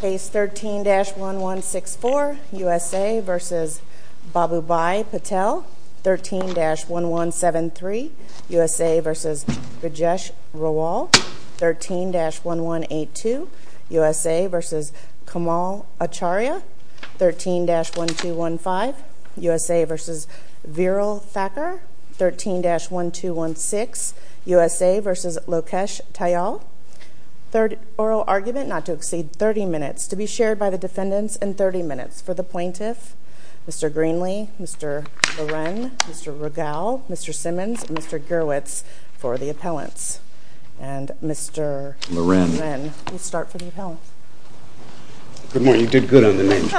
13-1173 USA v. Rajesh Rawal 13-1182 USA v. Kamal Acharya 13-1215 USA v. Viral Thakkar 13-1216 USA v. Lokesh Tyal 30 minutes to be shared by the defendants and 30 minutes for the plaintiffs Mr. Greenlee, Mr. Loren, Mr. Rogal, Mr. Simmons, and Mr. Gerwitz for the appellants and Mr. Loren will start to detail Good morning, you did good on the names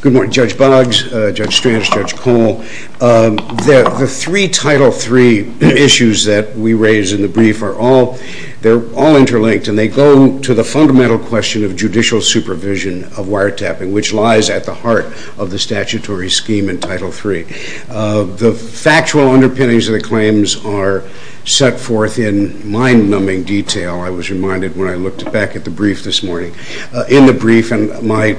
Good morning Judge Boggs, Judge Strauss, Judge Pohl The three Title III issues that we raise in the brief are all interlinked and they go to the fundamental question of judicial supervision of wiretapping which lies at the heart of the statutory scheme in Title III The factual underpinnings of the claims are set forth in mind-numbing detail I was reminded when I looked back at the brief this morning in the brief, and my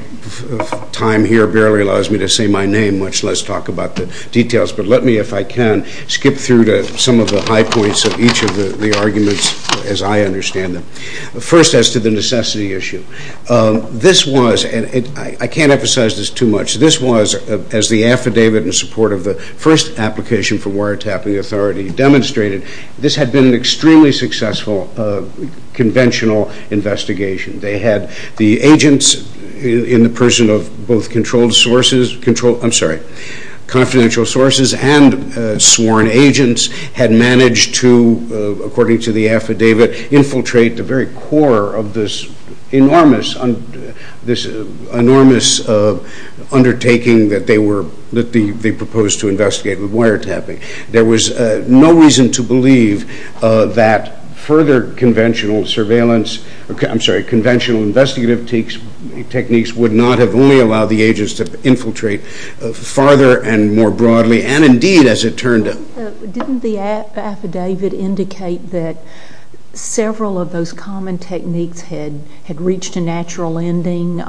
time here barely allows me to say my name, much less talk about the details but let me, if I can, skip through some of the high points of each of the arguments as I understand them First, as to the necessity issue This was, and I can't emphasize this too much This was, as the affidavit in support of the first application for wiretapping authority demonstrated this had been an extremely successful conventional investigation They had the agents in the person of both controlled sources I'm sorry, confidential sources and sworn agents had managed to, according to the affidavit infiltrate the very core of this enormous undertaking that they proposed to investigate with wiretapping There was no reason to believe that further conventional surveillance I'm sorry, conventional investigative techniques would not have only allowed the agents to infiltrate further and more broadly and indeed, as it turned out Didn't the affidavit indicate that several of those common techniques had reached a natural ending?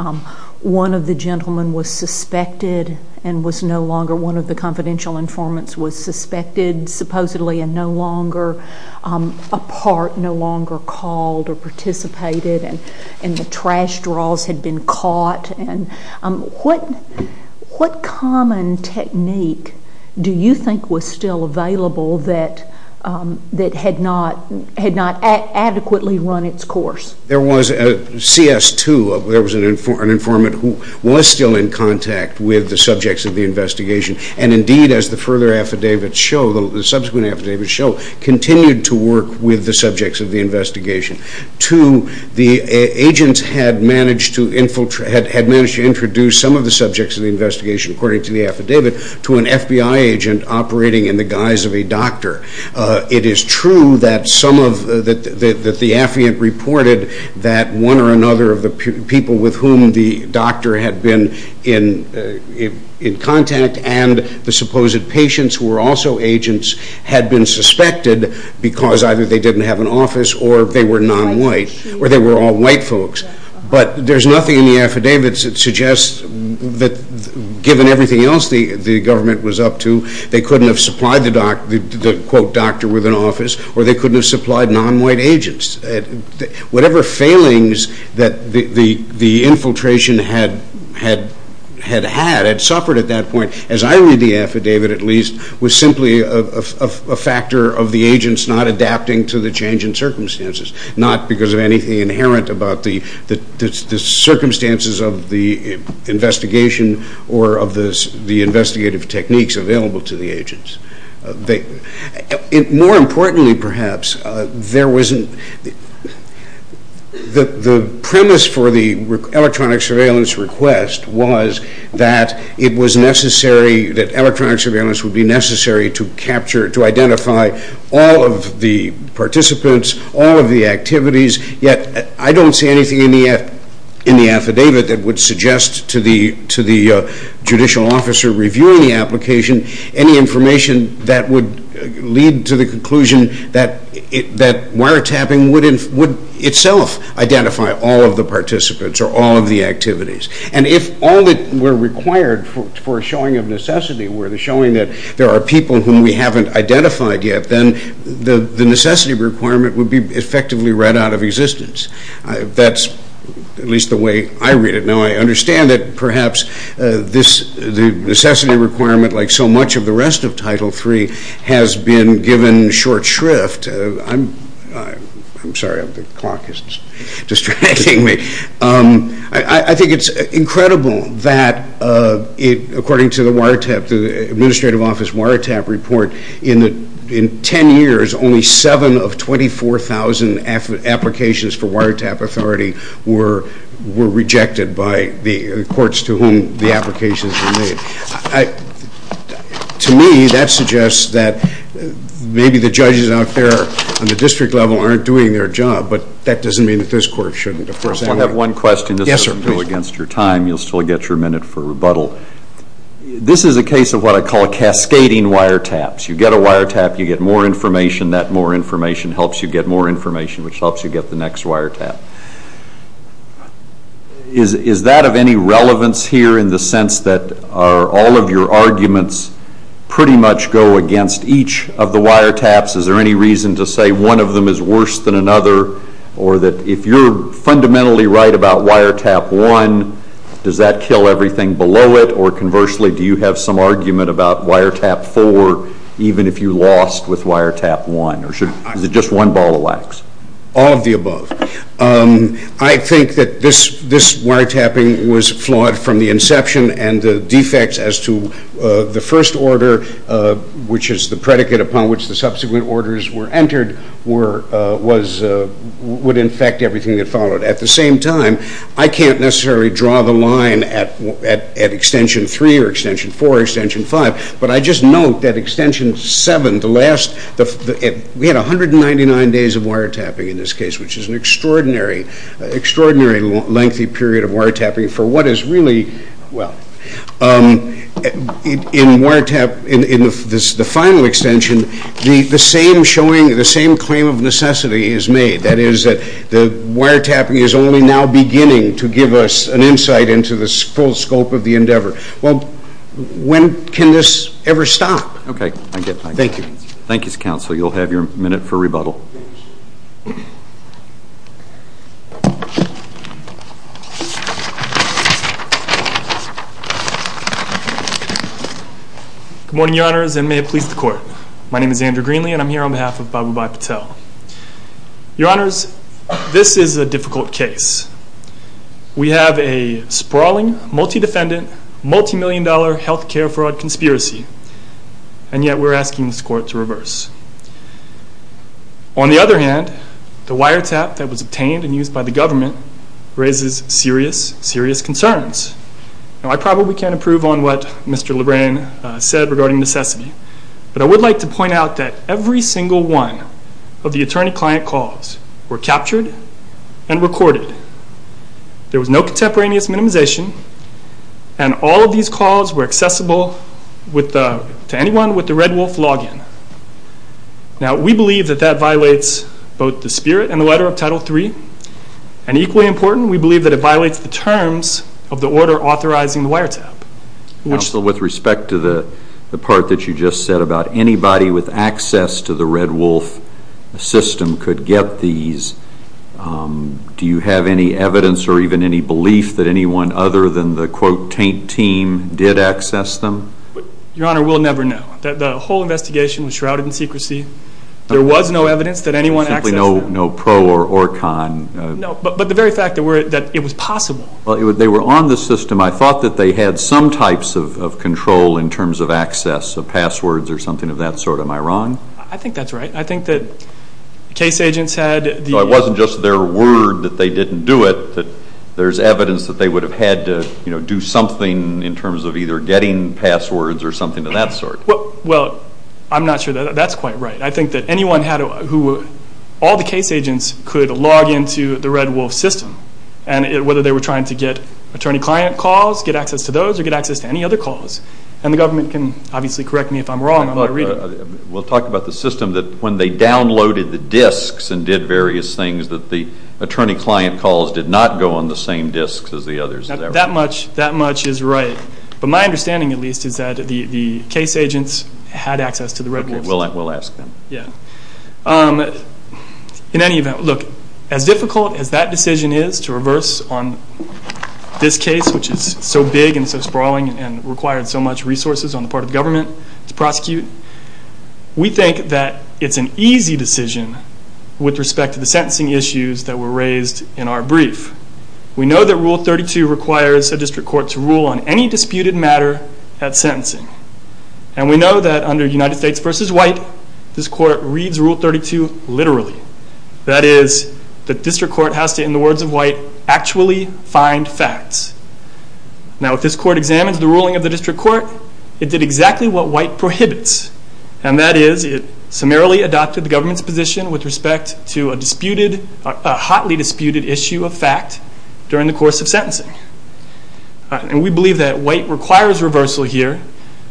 One of the gentlemen was suspected and was no longer one of the confidential informants was suspected supposedly and no longer a part, no longer called or participated and the trash drawers had been caught What common technique do you think was still available that had not adequately run its course? There was a CS2, there was an informant who was still in contact with the subjects of the investigation and indeed, as the further affidavits show, the subsequent affidavits show continued to work with the subjects of the investigation Two, the agents had managed to introduce some of the subjects of the investigation according to the affidavit to an FBI agent operating in the guise of a doctor It is true that the affiant reported that one or another of the people with whom the doctor had been in contact and the supposed patients who were also agents had been suspected because either they didn't have an office or they were non-white, or they were all white folks But there's nothing in the affidavit that suggests that given everything else the government was up to they couldn't have supplied the doctor with an office or they couldn't have supplied non-white agents Whatever failings that the infiltration had had had suffered at that point, as I read the affidavit at least was simply a factor of the agents not adapting to the changing circumstances not because of anything inherent about the circumstances of the investigation or of the investigative techniques available to the agents More importantly perhaps, the premise for the electronic surveillance request was that electronic surveillance would be necessary to identify all of the participants, all of the activities yet I don't see anything in the affidavit that would suggest to the judicial officer reviewing the application any information that would lead to the conclusion that wiretapping would itself identify all of the participants or all of the activities And if all that were required for a showing of necessity were the showing that there are people whom we haven't identified yet then the necessity requirement would be effectively read out of existence That's at least the way I read it Now I understand that perhaps the necessity requirement like so much of the rest of Title III has been given short shrift I'm sorry, the clock is distracting me I think it's incredible that according to the wiretap the administrative office wiretap report in 10 years only 7 of 24,000 applications for wiretap authority were rejected by the courts to whom the applications were made To me that suggests that maybe the judges out there on the district level aren't doing their job but that doesn't mean that this court shouldn't I have one question just to appeal against your time you'll still get your minute for rebuttal This is a case of what I call cascading wiretaps You get a wiretap, you get more information that more information helps you get more information which helps you get the next wiretap Is that of any relevance here in the sense that all of your arguments pretty much go against each of the wiretaps Is there any reason to say one of them is worse than another or that if you're fundamentally right about wiretap 1 does that kill everything below it or conversely do you have some argument about wiretap 4 even if you lost with wiretap 1 or is it just one ball of wax All of the above I think that this wiretapping was flawed from the inception and the defects as to the first order which is the predicate upon which the subsequent orders were entered would infect everything that followed At the same time, I can't necessarily draw the line at extension 3 or extension 4 or extension 5 but I just note that extension 7 we had 199 days of wiretapping in this case which is an extraordinary lengthy period of wiretapping for what is really in the final extension the same claim of necessity is made that is that wiretapping is only now beginning to give us an insight into the full scope of the endeavor Well, when can this ever stop? Okay, I get that. Thank you. Thank you, Counselor. You'll have your minute for rebuttal. Good morning, Your Honors, and may it please the Court. My name is Andrew Greenlee and I'm here on behalf of Babu Bhatt Patel. Your Honors, this is a difficult case. We have a sprawling, multi-defendant, multi-million dollar health care fraud conspiracy and yet we're asking this Court to reverse. On the other hand, the wiretap that was obtained and used by the government raises serious, serious concerns. Now, I probably can't improve on what Mr. LeBrun said regarding necessity but I would like to point out that every single one of the attorney-client calls were captured and recorded. There was no contemporaneous minimization and all of these calls were accessible to anyone with the Red Wolf login. Now, we believe that that violates both the spirit and the letter of Title III and equally important, we believe that it violates the terms of the order authorizing the wiretap. Counsel, with respect to the part that you just said about anybody with access to the Red Wolf system could get these, do you have any evidence or even any belief that anyone other than the, quote, taint team did access them? Your Honor, we'll never know. The whole investigation was shrouded in secrecy. There was no evidence that anyone accessed them. There's simply no pro or con. No, but the very fact that it was possible. They were on the system. I thought that they had some types of control in terms of access, the passwords or something of that sort. Am I wrong? I think that's right. I think that case agents had the... No, it wasn't just their word that they didn't do it, but there's evidence that they would have had to do something in terms of either getting passwords or something of that sort. Well, I'm not sure that that's quite right. I think that anyone who, all the case agents could log into the Red Wolf system and whether they were trying to get attorney-client calls, get access to those or get access to any other calls and the government can obviously correct me if I'm wrong. We'll talk about the system that when they downloaded the disks and did various things that the attorney-client calls did not go on the same disks as the others. That much is right. But my understanding, at least, is that the case agents had access to the Red Wolf. We'll ask them. In any event, look, as difficult as that decision is to reverse on this case, which is so big and so sprawling and required so much resources on the part of the government to prosecute, we think that it's an easy decision with respect to the sentencing issues that were raised in our brief. We know that Rule 32 requires a district court to rule on any disputed matter at sentencing. And we know that under United States v. White, this court reads Rule 32 literally. That is, the district court has to, in the words of White, actually find facts. Now, if this court examines the ruling of the district court, it did exactly what White prohibits, and that is it summarily adopted the government's position with respect to a hotly disputed issue of fact during the course of sentencing. And we believe that White requires reversal here.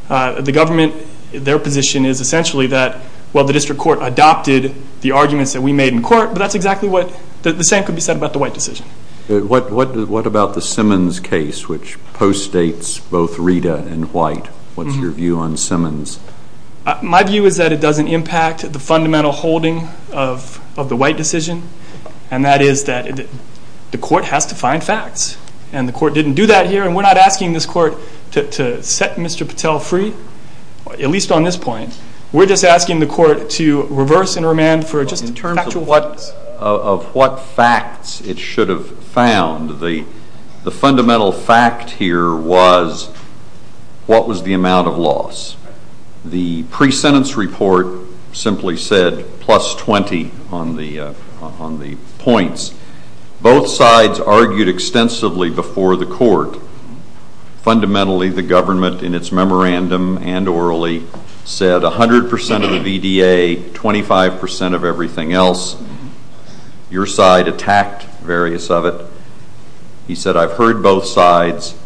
The government, their position is essentially that, well, the district court adopted the arguments that we made in court, but that's exactly what the same could be said about the White decision. What about the Simmons case, which post-states both Rita and White? What's your view on Simmons? My view is that it doesn't impact the fundamental holding of the White decision, and that is that the court has to find facts, and the court didn't do that here, and we're not asking this court to set Mr. Patel free, at least on this point. We're just asking the court to reverse and remand for just in terms of what facts it should have found. The fundamental fact here was what was the amount of loss. The pre-sentence report simply said plus 20 on the points. Fundamentally, the government, in its memorandum and orally, said 100% of the VDA, 25% of everything else. Your side attacked various of it. He said, I've heard both sides.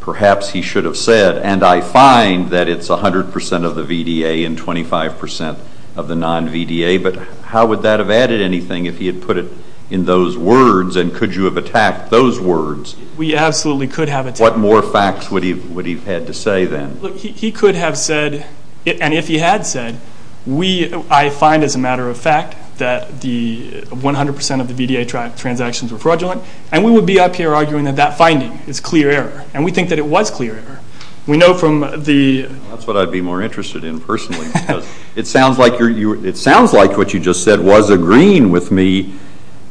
Perhaps he should have said, and I find that it's 100% of the VDA and 25% of the non-VDA, but how would that have added anything if he had put it in those words, and could you have attacked those words? We absolutely could have. What more facts would he have had to say then? He could have said, and if he had said, I find as a matter of fact that 100% of the VDA transactions are fraudulent, and we would be up here arguing that that finding is clear error, and we think that it was clear error. That's what I'd be more interested in personally. It sounds like what you just said was agreeing with me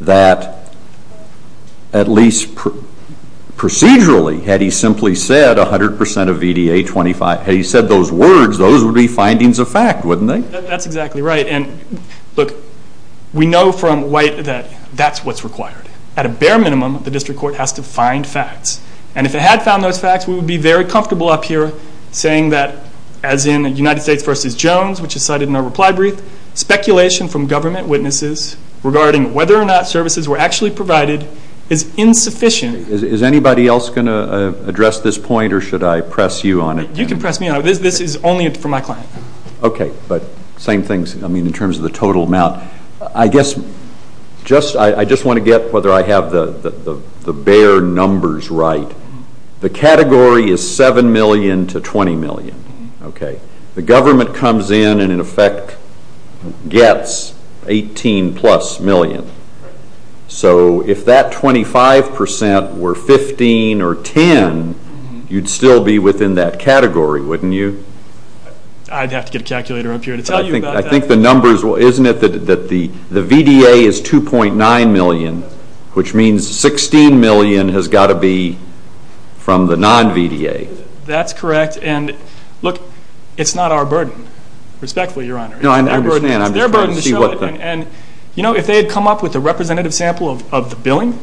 that, at least procedurally, had he simply said 100% of VDA, 25%, had he said those words, those would be findings of fact, wouldn't they? That's exactly right. Look, we know from White that that's what's required. At a bare minimum, the district court has to find facts, and if it had found those facts, we would be very comfortable up here saying that, as in United States v. Jones, which is cited in the reply brief, speculation from government witnesses regarding whether or not services were actually provided is insufficient. Is anybody else going to address this point, or should I press you on it? You can press me on it. This is only for my client. Okay, but same thing in terms of the total amount. I just want to get whether I have the bare numbers right. The category is 7 million to 20 million. The government comes in and, in effect, gets 18-plus million. So if that 25% were 15 or 10, you'd still be within that category, wouldn't you? I'd have to get a calculator up here to tell you about that. I think the numbers will, isn't it that the VDA is 2.9 million, which means 16 million has got to be from the non-VDA. That's correct. And, look, it's not our burden, respectfully, Your Honor. No, I understand. I'm just trying to see what's there. Their burden is showing. And, you know, if they had come up with a representative sample of the billing,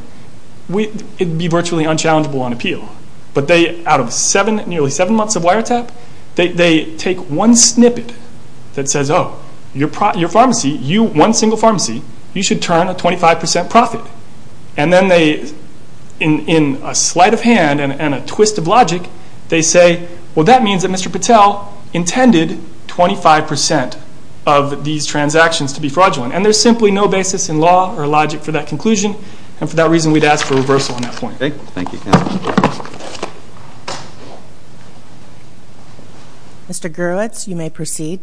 it would be virtually unchallengeable on appeal. But they, out of nearly seven months of wiretap, they take one snippet that says, Oh, your pharmacy, one single pharmacy, you should turn a 25% profit. And then they, in a sleight of hand and a twist of logic, they say, Well, that means that Mr. Patel intended 25% of these transactions to be fraudulent. And there's simply no basis in law or logic for that conclusion. And for that reason, we'd ask for a reversal on that point. Thank you. Thank you. Mr. Gerwitz, you may proceed.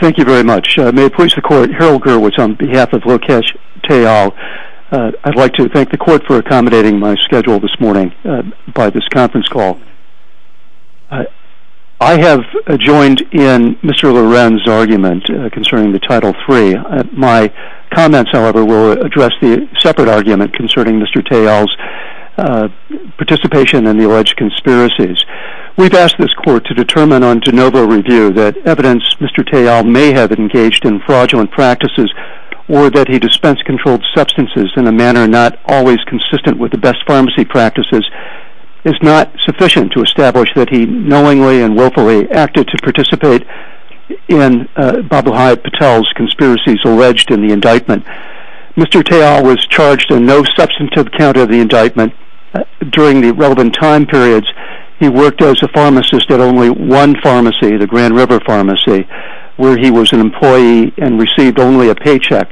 Thank you very much. May it please the Court, Harold Gerwitz on behalf of Lokesh Teil. I'd like to thank the Court for accommodating my schedule this morning by this conference call. I have joined in Mr. Lorenz's argument concerning the Title III. My comments, however, will address the separate argument concerning Mr. Teil's participation in the alleged conspiracies. We've asked this Court to determine on de novo review that evidence Mr. Teil may have engaged in fraudulent practices or that he dispensed controlled substances in a manner not always consistent with the best pharmacy practices is not sufficient to establish that he knowingly and willfully acted to participate in Babu Hyatt Patel's conspiracies alleged in the indictment. Mr. Teil was charged in no substantive count of the indictment. During the relevant time periods, he worked as a pharmacist at only one pharmacy, the Grand River Pharmacy, where he was an employee and received only a paycheck.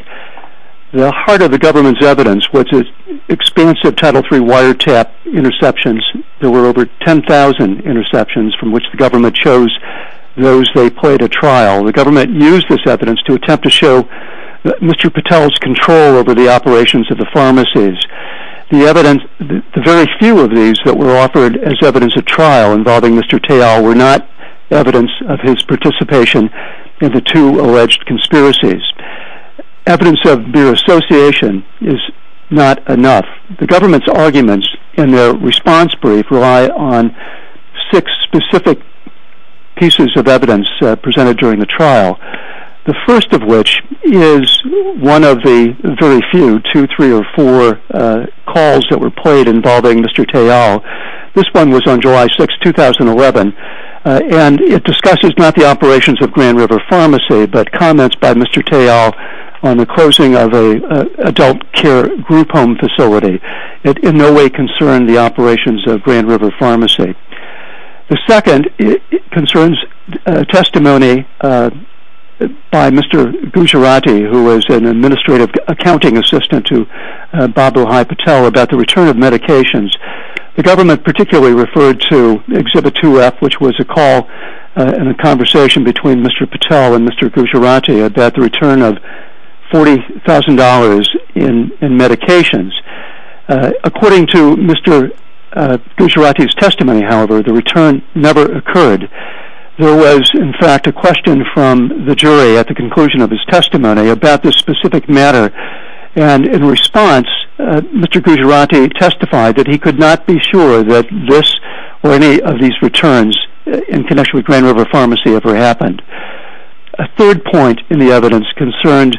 The heart of the government's evidence was its expansive Title III wiretap interceptions. There were over 10,000 interceptions from which the government chose those they played at trial. The government used this evidence to attempt to show Mr. Patel's control over the operations of the pharmacies. The very few of these that were offered as evidence of trial involving Mr. Teil were not evidence of his participation in the two alleged conspiracies. Evidence of their association is not enough. The government's arguments in their response brief rely on six specific pieces of evidence presented during the trial, the first of which is one of the very few, two, three, or four calls that were played involving Mr. Teil. This one was on July 6, 2011, and it discusses not the operations of Grand River Pharmacy, but comments by Mr. Teil on the closing of an adult care group home facility. It in no way concerned the operations of Grand River Pharmacy. The second concerns testimony by Mr. Gujarati, who was an administrative accounting assistant to Babu Hai Patel, about the return of medications. The government particularly referred to Exhibit 2F, which was a call and a conversation between Mr. Patel and Mr. Gujarati about the return of $40,000 in medications. According to Mr. Gujarati's testimony, however, the return never occurred. There was, in fact, a question from the jury at the conclusion of his testimony about this specific matter, and in response, Mr. Gujarati testified that he could not be sure that this or any of these returns in connection with Grand River Pharmacy ever happened. A third point in the evidence concerned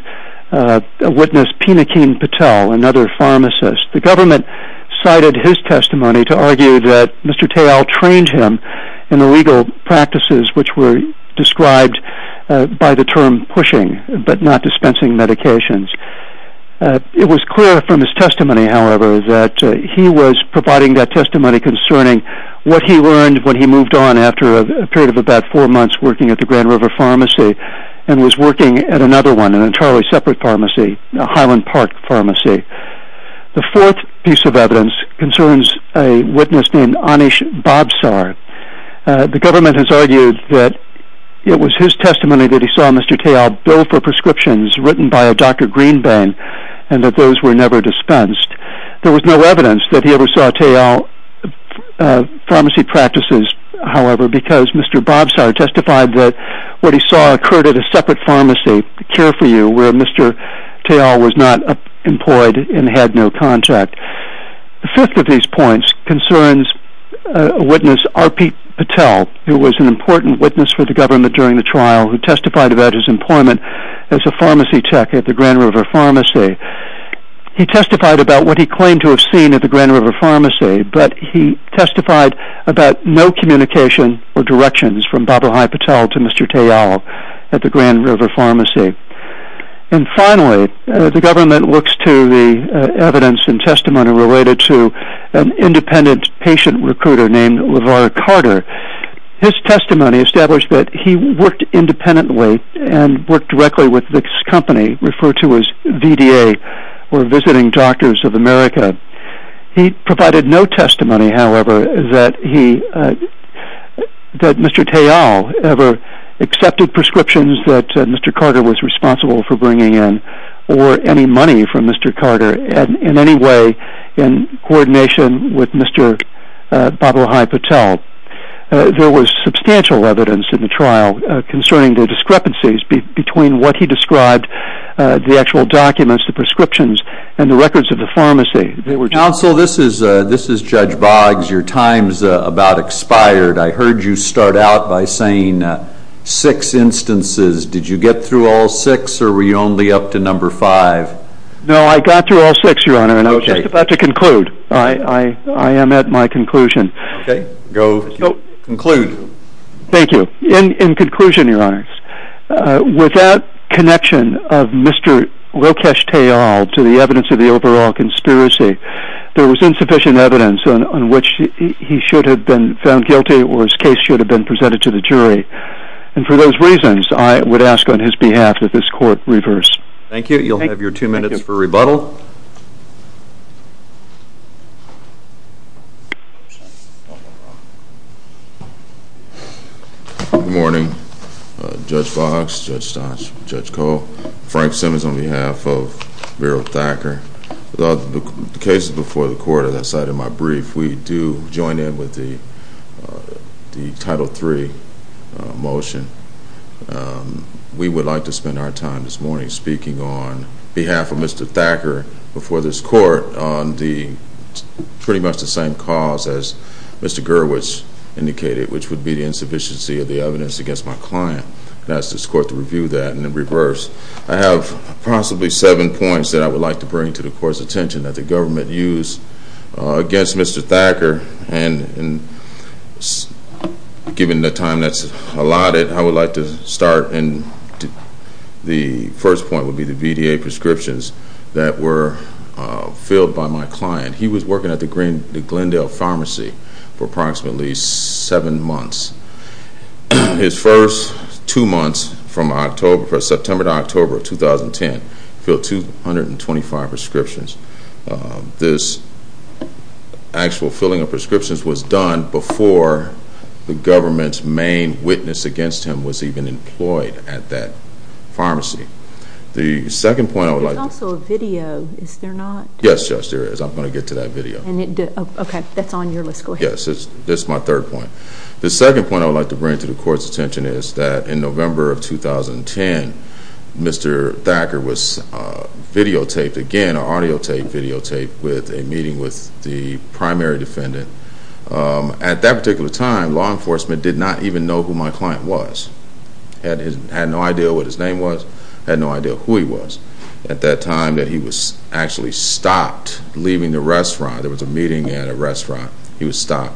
a witness, Pinakin Patel, another pharmacist. The government cited his testimony to argue that Mr. Teil trained him in the legal practices which were described by the term pushing, but not dispensing medications. It was clear from his testimony, however, that he was providing that testimony concerning what he learned when he moved on after a period of about four months working at the Grand River Pharmacy and was working at another one, an entirely separate pharmacy, Highland Park Pharmacy. The fourth piece of evidence concerns a witness named Anish Babsar. The government has argued that it was his testimony that he saw Mr. Teil bill for prescriptions written by a Dr. Greenberg and that those were never dispensed. There was no evidence that he ever saw Teil pharmacy practices, however, because Mr. Babsar testified that what he saw occurred at a separate pharmacy, Care for You, where Mr. Teil was not employed and had no contact. The fifth of these points concerns a witness, R.P. Patel, who was an important witness for the government during the trial who testified about his employment as a pharmacy tech at the Grand River Pharmacy. He testified about what he claimed to have seen at the Grand River Pharmacy, but he testified about no communication or directions from Babarhai Patel to Mr. Teil at the Grand River Pharmacy. Finally, the government looks to the evidence and testimony related to an independent patient recruiter named LeVar Carter. His testimony established that he worked independently and worked directly with Vicks Company, referred to as VDA, or Visiting Doctors of America. He provided no testimony, however, that Mr. Teil ever accepted prescriptions that Mr. Carter was responsible for bringing in or any money from Mr. Carter in any way in coordination with Mr. Babarhai Patel. There was substantial evidence in the trial concerning the discrepancies between what he described, the actual documents, the prescriptions, and the records of the pharmacy. Counsel, this is Judge Boggs. Your time's about expired. I heard you start out by saying six instances. Did you get through all six or were you only up to number five? No, I got through all six, Your Honor, and I was just about to conclude. I am at my conclusion. Okay. Go conclude. Thank you. In conclusion, Your Honor, without connection of Mr. Lokesh Teil to the evidence of the overall conspiracy, there was insufficient evidence on which he should have been found guilty or his case should have been presented to the jury. For those reasons, I would ask on his behalf that this court reverse. Thank you. You'll have your two minutes for rebuttal. Good morning, Judge Boggs, Judge Sachs, Judge Cole. Frank Simmons on behalf of Verrill Thacker. The cases before the court, as I said in my brief, we do join in with the Title III motion. We would like to spend our time this morning speaking on behalf of Mr. Thacker before this court on pretty much the same cause as Mr. Gerwitz indicated, which would be the insufficiency of the evidence against my client. I would ask this court to review that and reverse. I have possibly seven points that I would like to bring to the court's attention that the government used against Mr. Thacker, and given the time that's allotted, I would like to start. The first point would be the VDA prescriptions that were filled by my client. He was working at the Glendale Pharmacy for approximately seven months. His first two months from September to October of 2010 filled 225 prescriptions. This actual filling of prescriptions was done before the government's main witness against him was even employed at that pharmacy. There's also a video, is there not? Yes, Judge, there is. I'm going to get to that video. Okay, that's on your list. Go ahead. Yes, this is my third point. The second point I would like to bring to the court's attention is that in November of 2010, Mr. Thacker was videotaped again, audio taped, videotaped, with a meeting with the primary defendant. At that particular time, law enforcement did not even know who my client was. They had no idea what his name was. They had no idea who he was. At that time, he was actually stopped leaving the restaurant. There was a meeting at a restaurant. He was stopped.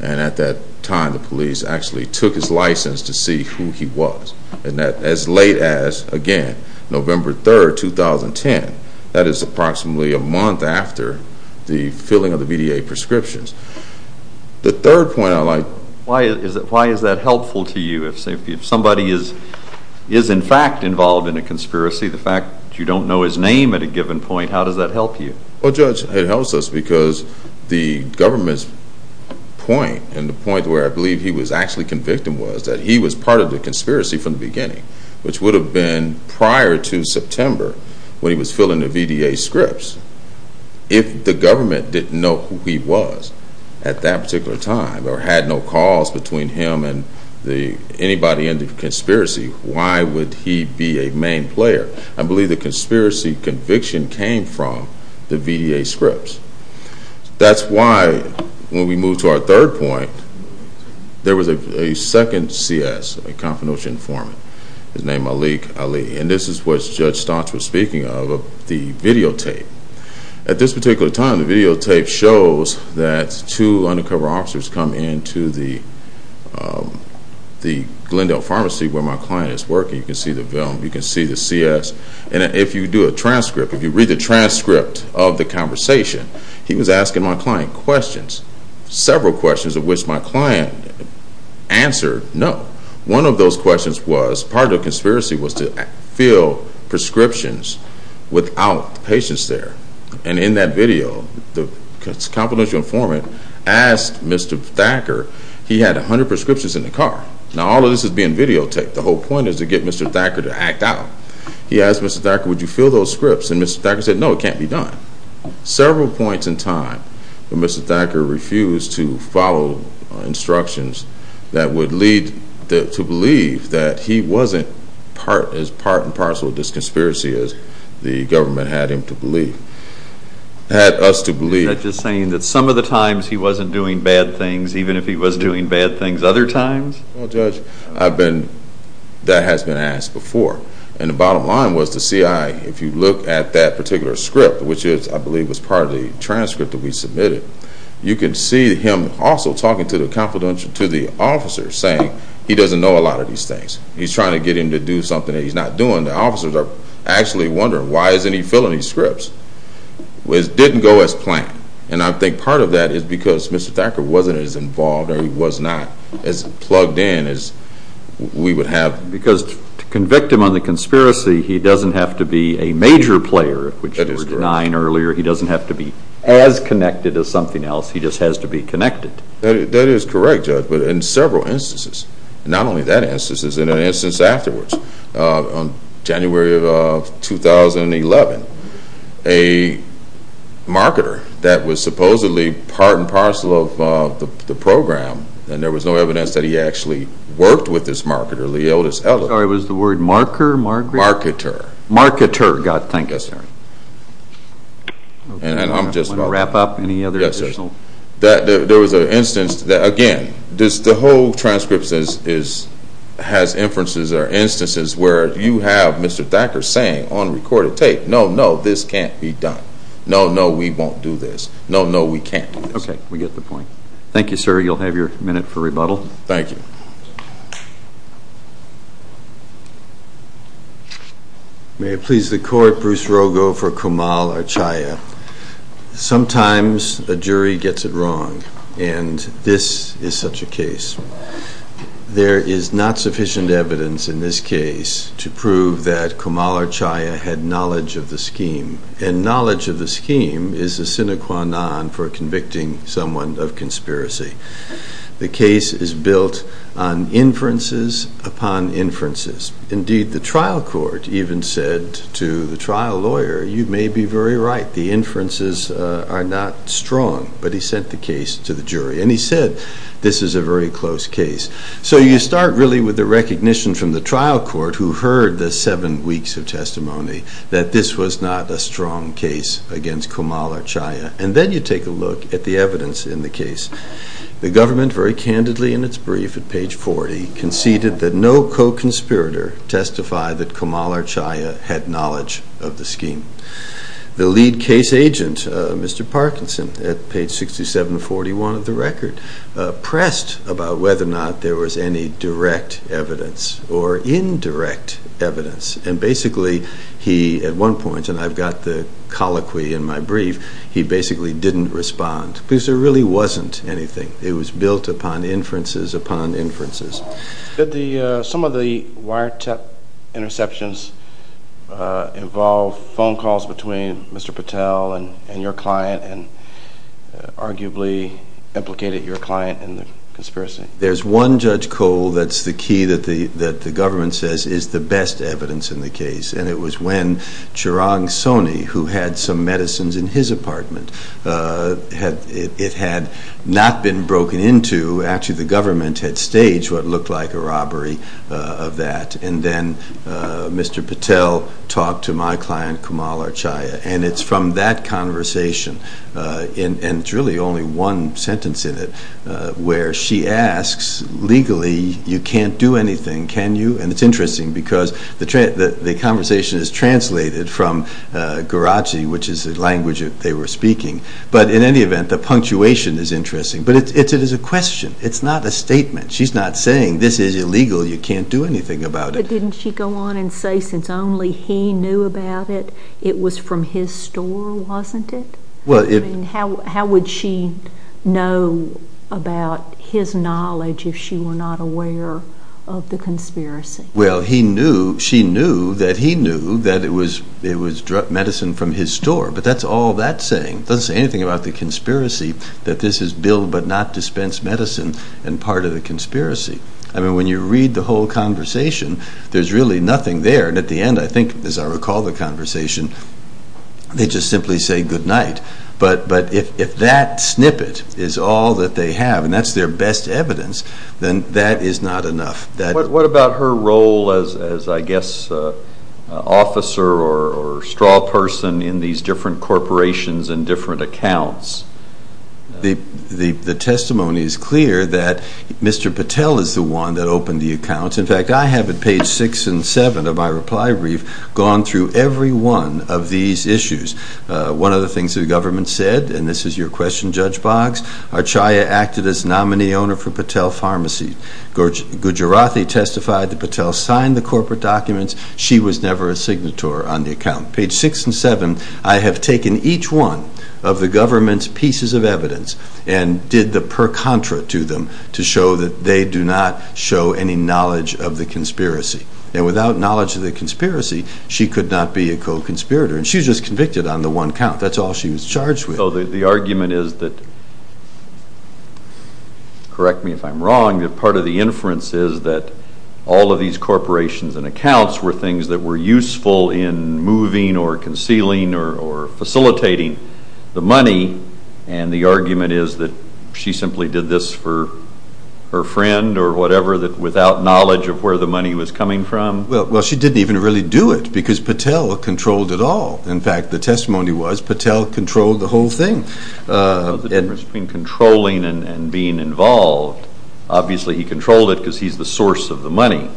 At that time, the police actually took his license to see who he was. As late as, again, November 3rd, 2010, that is approximately a month after the filling of the BDA prescriptions. The third point I'd like... Why is that helpful to you? If somebody is in fact involved in a conspiracy, the fact that you don't know his name at a given point, how does that help you? Well, Judge, it helps us because the government's point, and the point where I believe he was actually convicted, was that he was part of the conspiracy from the beginning, which would have been prior to September when he was filling the BDA scripts. If the government didn't know who he was at that particular time, or had no calls between him and anybody in the conspiracy, why would he be a main player? I believe the conspiracy conviction came from the BDA scripts. That's why, when we move to our third point, there was a second CS, a confidential informant. His name was Aliq Ali. This is what Judge Stotts was speaking of, the videotape. At this particular time, the videotape shows that two undercover officers come into the Glendale Pharmacy, where my client is working. You can see the film, you can see the CS. And if you do a transcript, if you read the transcript of the conversation, he was asking my client questions, several questions of which my client answered no. One of those questions was, part of the conspiracy was to fill prescriptions without patients there. And in that video, the confidential informant asked Mr. Thacker, he had 100 prescriptions in the car. Now, all of this is being videotaped. The whole point is to get Mr. Thacker to act out. He asked Mr. Thacker, would you fill those scripts? And Mr. Thacker said, no, it can't be done. Several points in time, Mr. Thacker refused to follow instructions that would lead to believe that he wasn't as part and parcel of this conspiracy as the government had us to believe. Are you saying that some of the times he wasn't doing bad things, even if he was doing bad things other times? Well, Judge, that has been asked before. And the bottom line was the CI, if you look at that particular script, which I believe was part of the transcript that we submitted, you can see him also talking to the officers, saying he doesn't know a lot of these things. He's trying to get him to do something that he's not doing. And the officers are actually wondering, why isn't he filling these scripts? It didn't go as planned. And I think part of that is because Mr. Thacker wasn't as involved or he was not as plugged in as we would have. Because to convict him of the conspiracy, he doesn't have to be a major player, which you were denying earlier. He doesn't have to be as connected as something else. He just has to be connected. That is correct, Judge, but in several instances, not only that instance, but in an instance afterwards, in January of 2011, a marketer that was supposedly part and parcel of the program, and there was no evidence that he actually worked with this marketer, Leotis Ellis. Sorry, was the word marketer? Marketer. Marketer, got it. Thank you, sir. Do you want to wrap up? Any other additional? There was an instance, again, the whole transcript has inferences or instances where you have Mr. Thacker saying on recorded tape, no, no, this can't be done. No, no, we won't do this. No, no, we can't do this. Okay, we get the point. Thank you, sir. You'll have your minute for rebuttal. Thank you. May it please the court, Bruce Rogo for Kamal Achaya. Sometimes a jury gets it wrong, and this is such a case. There is not sufficient evidence in this case to prove that Kamal Achaya had knowledge of the scheme, and knowledge of the scheme is a sine qua non for convicting someone of conspiracy. The case is built on inferences upon inferences. Indeed, the trial court even said to the trial lawyer, you may be very right. The inferences are not strong, but he sent the case to the jury, and he said this is a very close case. So you start really with the recognition from the trial court who heard the seven weeks of testimony that this was not a strong case against Kamal Achaya, and then you take a look at the evidence in the case. The government very candidly in its brief at page 40 conceded that no co-conspirator testified that Kamal Achaya had knowledge of the scheme. The lead case agent, Mr. Parkinson, at page 6741 of the record, pressed about whether or not there was any direct evidence or indirect evidence, and basically he, at one point, and I've got the colloquy in my brief, he basically didn't respond. Because there really wasn't anything. It was built upon inferences upon inferences. Did some of the wiretap interceptions involve phone calls between Mr. Patel and your client, and arguably implicated your client in the conspiracy? There's one Judge Cole that's the key that the government says is the best evidence in the case, and it was when Chirag Soni, who had some medicines in his apartment, it had not been broken into, actually the government had staged what looked like a robbery of that, and then Mr. Patel talked to my client, Kamal Achaya, and it's from that conversation, and it's really only one sentence in it, where she asks, legally, you can't do anything, can you? And it's interesting, because the conversation is translated from Guarachi, which is the language that they were speaking, but in any event, the punctuation is interesting. But it is a question. It's not a statement. She's not saying, this is illegal, you can't do anything about it. But didn't she go on and say, since only he knew about it, it was from his store, wasn't it? How would she know about his knowledge if she were not aware of the conspiracy? Well, she knew that he knew that it was medicine from his store, but that's all that's saying. It doesn't say anything about the conspiracy, that this is billed but not dispensed medicine, and part of the conspiracy. I mean, when you read the whole conversation, there's really nothing there, and at the end, I think, as I recall the conversation, they just simply say, good night. But if that snippet is all that they have, and that's their best evidence, then that is not enough. What about her role as, I guess, officer or straw person in these different corporations and different accounts? The testimony is clear that Mr. Patel is the one that opened the accounts. In fact, I have, at page 6 and 7 of my reply brief, gone through every one of these issues. One of the things the government said, and this is your question, Judge Boggs, Archaya acted as nominee owner for Patel Pharmacy. Gujarati testified that Patel signed the corporate documents. She was never a signator on the account. Page 6 and 7, I have taken each one of the government's pieces of evidence and did the per contra to them to show that they do not show any knowledge of the conspiracy. Without knowledge of the conspiracy, she could not be a co-conspirator, and she was just convicted on the one count. That's all she was charged with. The argument is that, correct me if I'm wrong, that part of the inference is that all of these corporations and accounts were things that were useful in moving or concealing or facilitating the money, and the argument is that she simply did this for her friend or whatever, without knowledge of where the money was coming from? Well, she didn't even really do it, because Patel controlled it all. In fact, the testimony was, Patel controlled the whole thing. Patel has been controlling and being involved. Obviously, he controlled it because he's the source of the money.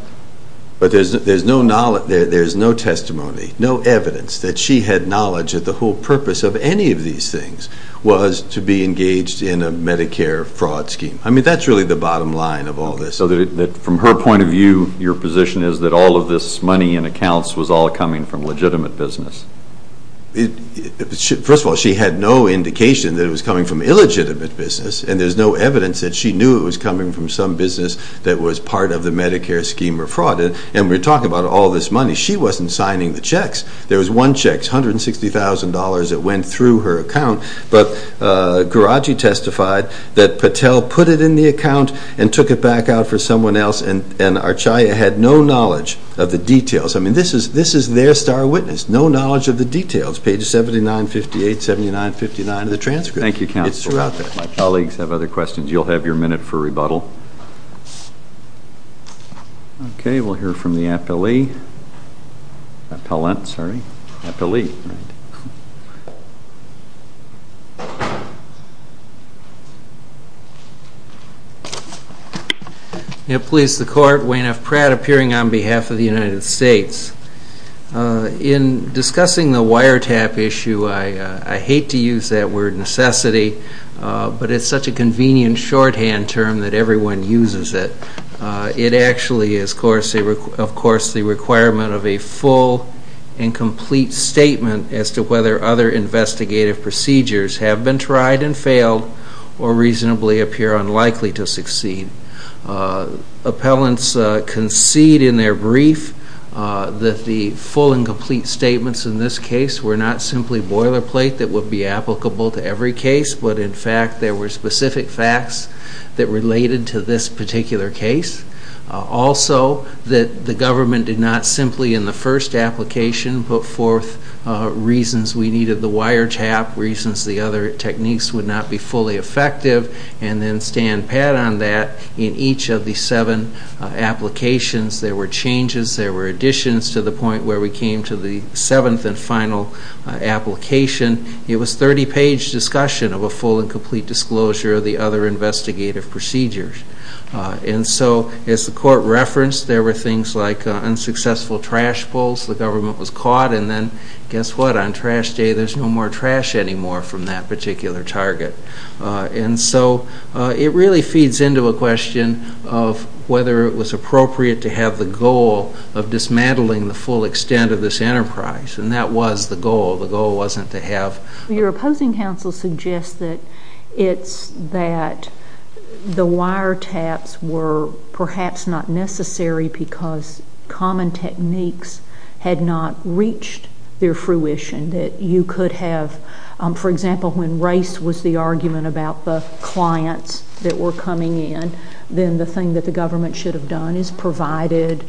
But there's no testimony, no evidence, that she had knowledge of the whole purpose of any of these things. It was to be engaged in a Medicare fraud scheme. I mean, that's really the bottom line of all this. So from her point of view, your position is that all of this money and accounts was all coming from legitimate business? First of all, she had no indication that it was coming from illegitimate business, and there's no evidence that she knew it was coming from some business that was part of the Medicare scheme or fraud. And we talk about all this money. She wasn't signing the checks. There was one check, $160,000, that went through her account, but Garagi testified that Patel put it in the account and took it back out for someone else, and Archaya had no knowledge of the details. I mean, this is their star witness, no knowledge of the details. Pages 79, 58, 79, 59 of the transcript. Thank you, counsel. My colleagues have other questions. You'll have your minute for rebuttal. Okay, we'll hear from the attellee. May it please the Court, Wayne F. Pratt, appearing on behalf of the United States. In discussing the wiretap issue, I hate to use that word necessity, but it's such a convenient shorthand term that everyone uses it. It actually is, of course, the requirement of a full and complete statement as to whether other investigative procedures have been tried and failed or reasonably appear unlikely to succeed. Appellants concede in their brief that the full and complete statements in this case were not simply boilerplate that would be applicable to every case, but in fact there were specific facts that related to this particular case. Also, that the government did not simply in the first application put forth reasons we needed the wiretap, reasons the other techniques would not be fully effective, and then stand pat on that in each of the seven applications. There were changes, there were additions to the point where we came to the seventh and final application. It was a 30-page discussion of a full and complete disclosure of the other investigative procedures. And so, as the Court referenced, there were things like unsuccessful trash pulls. The government was caught, and then guess what? On trash day, there's no more trash anymore from that particular target. And so, it really feeds into a question of whether it was appropriate to have the goal of dismantling the full extent of this enterprise, and that was the goal. The goal wasn't to have... Your opposing counsel suggests that it's that the wiretaps were perhaps not necessary because common techniques had not reached their fruition, that you could have... If there was an argument about the clients that were coming in, then the thing that the government should have done is provided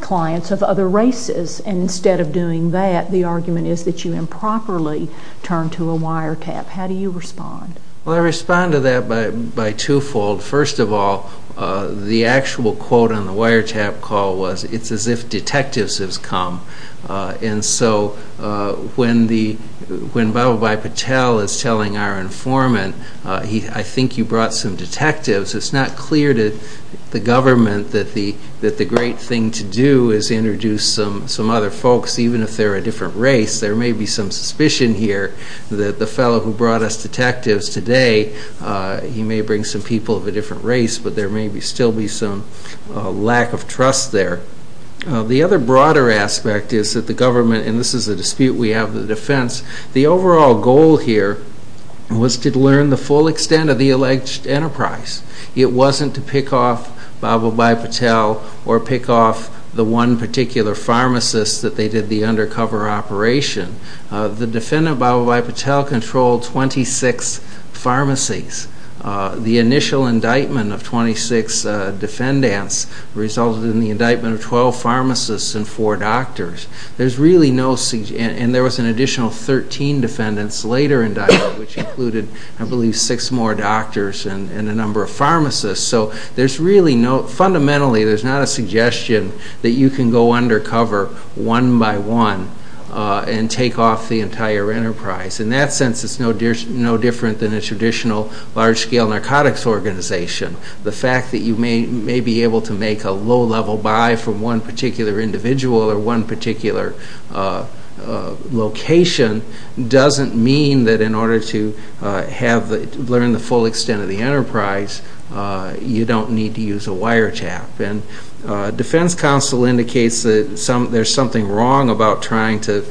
clients of other races. And instead of doing that, the argument is that you improperly turned to a wiretap. How do you respond? Well, I respond to that by twofold. First of all, the actual quote on the wiretap call was, it's as if detectives have come. And so, when Bhabhabhai Patel is telling our informant, I think you brought some detectives, it's not clear to the government that the great thing to do is introduce some other folks, even if they're a different race. There may be some suspicion here that the fellow who brought us detectives today, he may bring some people of a different race, but there may still be some lack of trust there. The other broader aspect is that the government, and this is a dispute we have in the defense, the overall goal here was to learn the full extent of the alleged enterprise. It wasn't to pick off Bhabhabhai Patel or pick off the one particular pharmacist that they did the undercover operation. The defendant, Bhabhabhai Patel, controlled 26 pharmacies. The initial indictment of 26 defendants resulted in the indictment of 12 pharmacists and 4 doctors. There was an additional 13 defendants later indicted, which included, I believe, 6 more doctors and a number of pharmacists. So, fundamentally, there's not a suggestion that you can go undercover one by one and take off the entire enterprise. In that sense, it's no different than a traditional large-scale narcotics organization. The fact that you may be able to make a low-level buy from one particular individual or one particular location doesn't mean that in order to learn the full extent of the enterprise, you don't need to use a wiretap. Defense counsel indicates that there's something wrong about trying to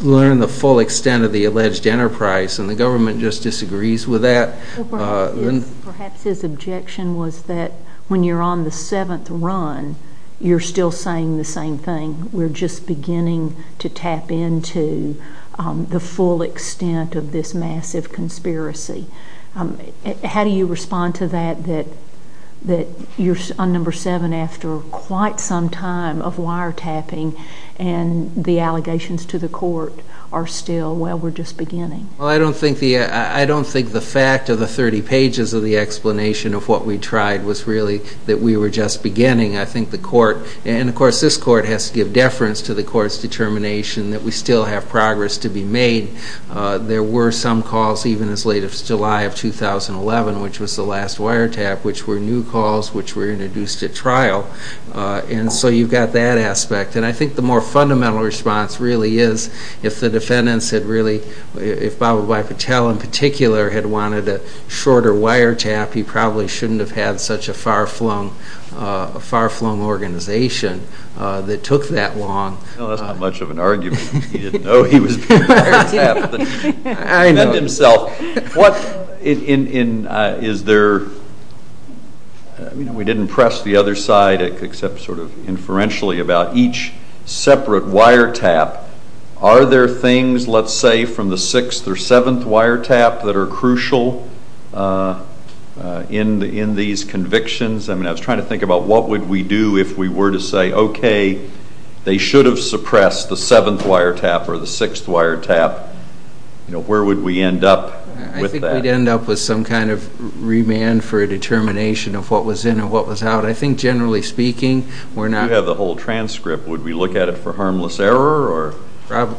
learn the full extent of the alleged enterprise, and the government just disagrees with that. Perhaps his objection was that when you're on the seventh run, you're still saying the same thing. We're just beginning to tap into the full extent of this massive conspiracy. How do you respond to that, that you're on number seven after quite some time of wiretapping and the allegations to the court are still, well, we're just beginning? I don't think the fact of the 30 pages of the explanation of what we tried was really that we were just beginning. I think the court, and of course this court has to give deference to the court's determination that we still have progress to be made. There were some calls even as late as July of 2011, which was the last wiretap, which were new calls which were introduced at trial. And so you've got that aspect. And I think the more fundamental response really is if the defendants had really, if Bhabhabhai Patel in particular had wanted a shorter wiretap, he probably shouldn't have had such a far-flung organization that took that long. Well, that's not much of an argument. He didn't know he was doing a wiretap. I know. That's himself. What, in, is there, we didn't press the other side except sort of inferentially about each separate wiretap. Are there things, let's say, from the sixth or seventh wiretap that are crucial in these convictions? I mean, I was trying to think about what would we do if we were to say, okay, they should have suppressed the seventh wiretap or the sixth wiretap. You know, where would we end up with that? I think we'd end up with some kind of remand for a determination of what was in and what was out. I think, generally speaking, we're not. You have the whole transcript.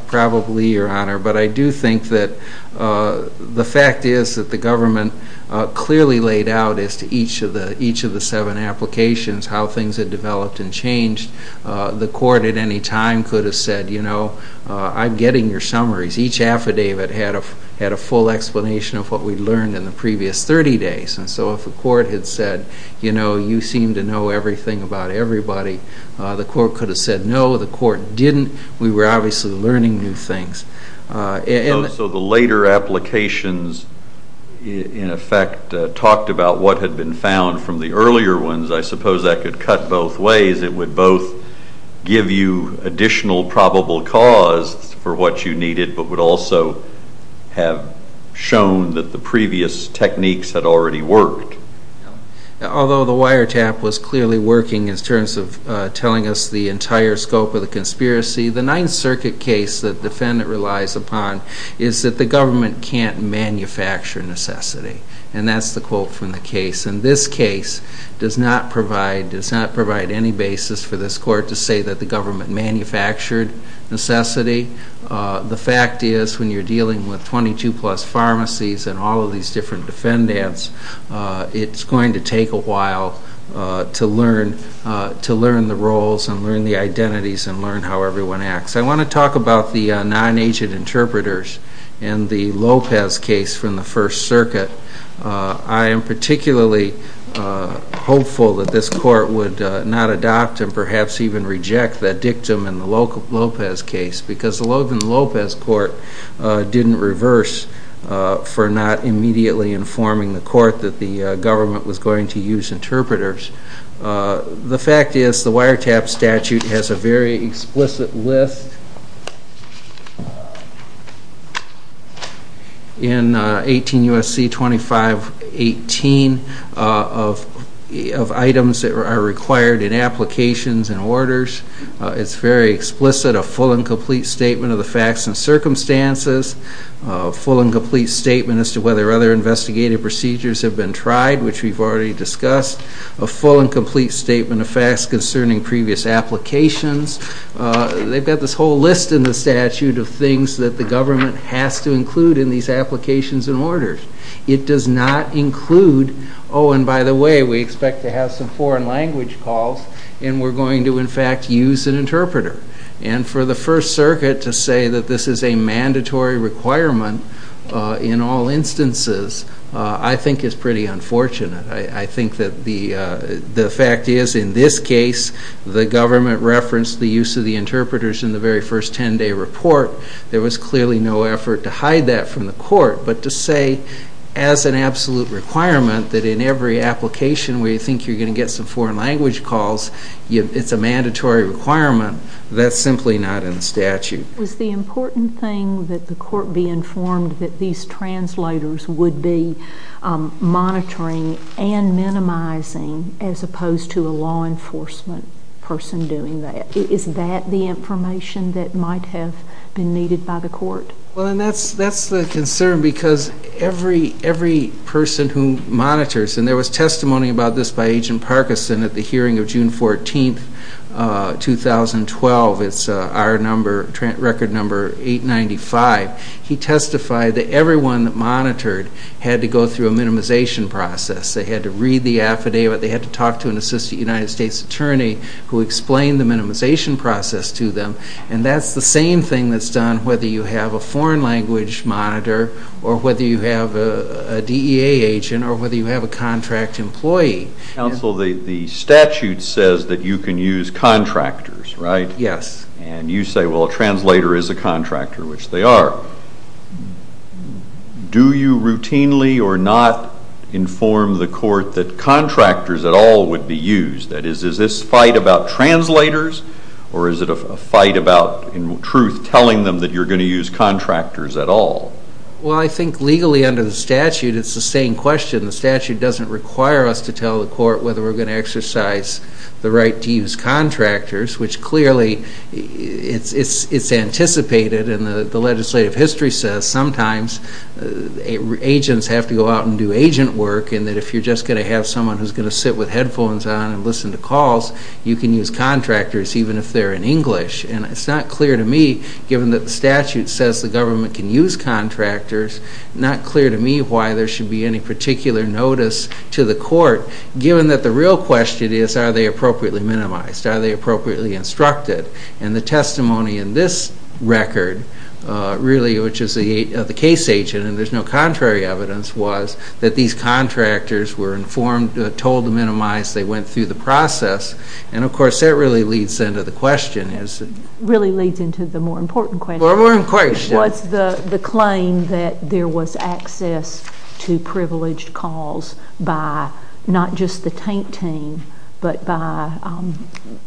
Probably, Your Honor. But I do think that the fact is that the government clearly laid out, as to each of the seven applications, how things had developed and changed. The court, at any time, could have said, you know, I'm getting your summaries. Each affidavit had a full explanation of what we learned in the previous 30 days. And so if the court had said, you know, you seem to know everything about everybody, the court could have said, no, the court didn't. We were obviously learning new things. Also, the later applications, in effect, talked about what had been found from the earlier ones. I suppose that could cut both ways. It would both give you additional probable cause for what you needed, but would also have shown that the previous techniques had already worked. Although the wiretap was clearly working in terms of telling us the entire scope of the conspiracy, the Ninth Circuit case that the defendant relies upon is that the government can't manufacture necessity. And that's the quote from the case. And this case does not provide any basis for this court to say that the government manufactured necessity. The fact is, when you're dealing with 22-plus pharmacies and all of these different defendants, it's going to take a while to learn the roles and learn the identities and learn how everyone acts. I want to talk about the non-agent interpreters in the Lopez case from the First Circuit. I am particularly hopeful that this court would not adopt and perhaps even reject that dictum in the Lopez case, because the Lopez court didn't reverse for not immediately informing the court that the government was going to use interpreters. The fact is, the wiretap statute has a very explicit list in 18 U.S.C. 2518 of items that are required in applications and orders. It's very explicit, a full and complete statement of the facts and circumstances, a full and complete statement as to whether other investigative procedures have been tried, which we've already discussed, a full and complete statement of facts concerning previous applications. They've got this whole list in the statute of things that the government has to include in these applications and orders. It does not include, oh, and by the way, we expect to have some foreign language calls, and we're going to, in fact, use an interpreter. And for the First Circuit to say that this is a mandatory requirement in all instances, I think it's pretty unfortunate. I think that the fact is, in this case, the government referenced the use of the interpreters in the very first 10-day report. There was clearly no effort to hide that from the court, but to say as an absolute requirement that in every application where you think you're going to get some foreign language calls, it's a mandatory requirement, that's simply not in the statute. Was the important thing that the court be informed that these translators would be monitoring and minimizing as opposed to a law enforcement person doing that? Is that the information that might have been needed by the court? Well, and that's the concern because every person who monitors, and there was testimony about this by Agent Parkinson at the hearing of June 14, 2012. It's our number, record number 895. He testified that everyone that monitored had to go through a minimization process. They had to read the affidavit. They had to talk to an assistant United States attorney who explained the minimization process to them, and that's the same thing that's done whether you have a foreign language monitor or whether you have a DEA agent or whether you have a contract employee. Counsel, the statute says that you can use contractors, right? Yes. And you say, well, a translator is a contractor, which they are. Do you routinely or not inform the court that contractors at all would be used? That is, is this a fight about translators or is it a fight about, in truth, telling them that you're going to use contractors at all? Well, I think legally under the statute it's the same question. The statute doesn't require us to tell the court whether we're going to exercise the right to use contractors, which clearly it's anticipated, and the legislative history says sometimes agents have to go out and do agent work and that if you're just going to have someone who's going to sit with headphones on and listen to calls, you can use contractors even if they're in English. And it's not clear to me, given that the statute says the government can use contractors, not clear to me why there should be any particular notice to the court given that the real question is, are they appropriately minimized? Are they appropriately instructed? And the testimony in this record really, which is the case agent, and there's no contrary evidence, was that these contractors were informed, told to minimize, they went through the process, and, of course, that really leads into the question. Really leads into the more important question. More important question. What's the claim that there was access to privileged calls by not just the TINK team but by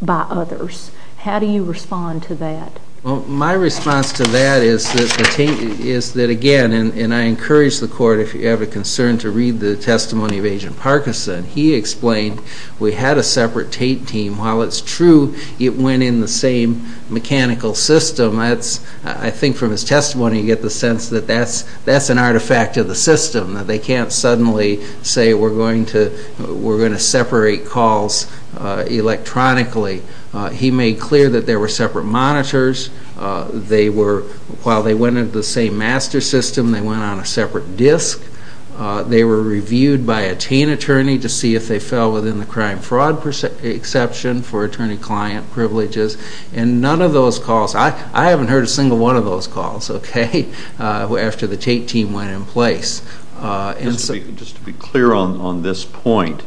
others? How do you respond to that? Well, my response to that is that, again, and I encourage the court, if you have a concern, to read the testimony of Agent Parkinson. He explained we had a separate TINK team. While it's true it went in the same mechanical system, I think from his testimony you get the sense that that's an artifact of the system, that they can't suddenly say we're going to separate calls electronically. He made clear that there were separate monitors. They were, while they went into the same master system, they went on a separate disk. They were reviewed by a TANE attorney to see if they fell within the crime-fraud exception for attorney-client privileges. And none of those calls, I haven't heard a single one of those calls, okay, after the TATE team went in place. Just to be clear on this point,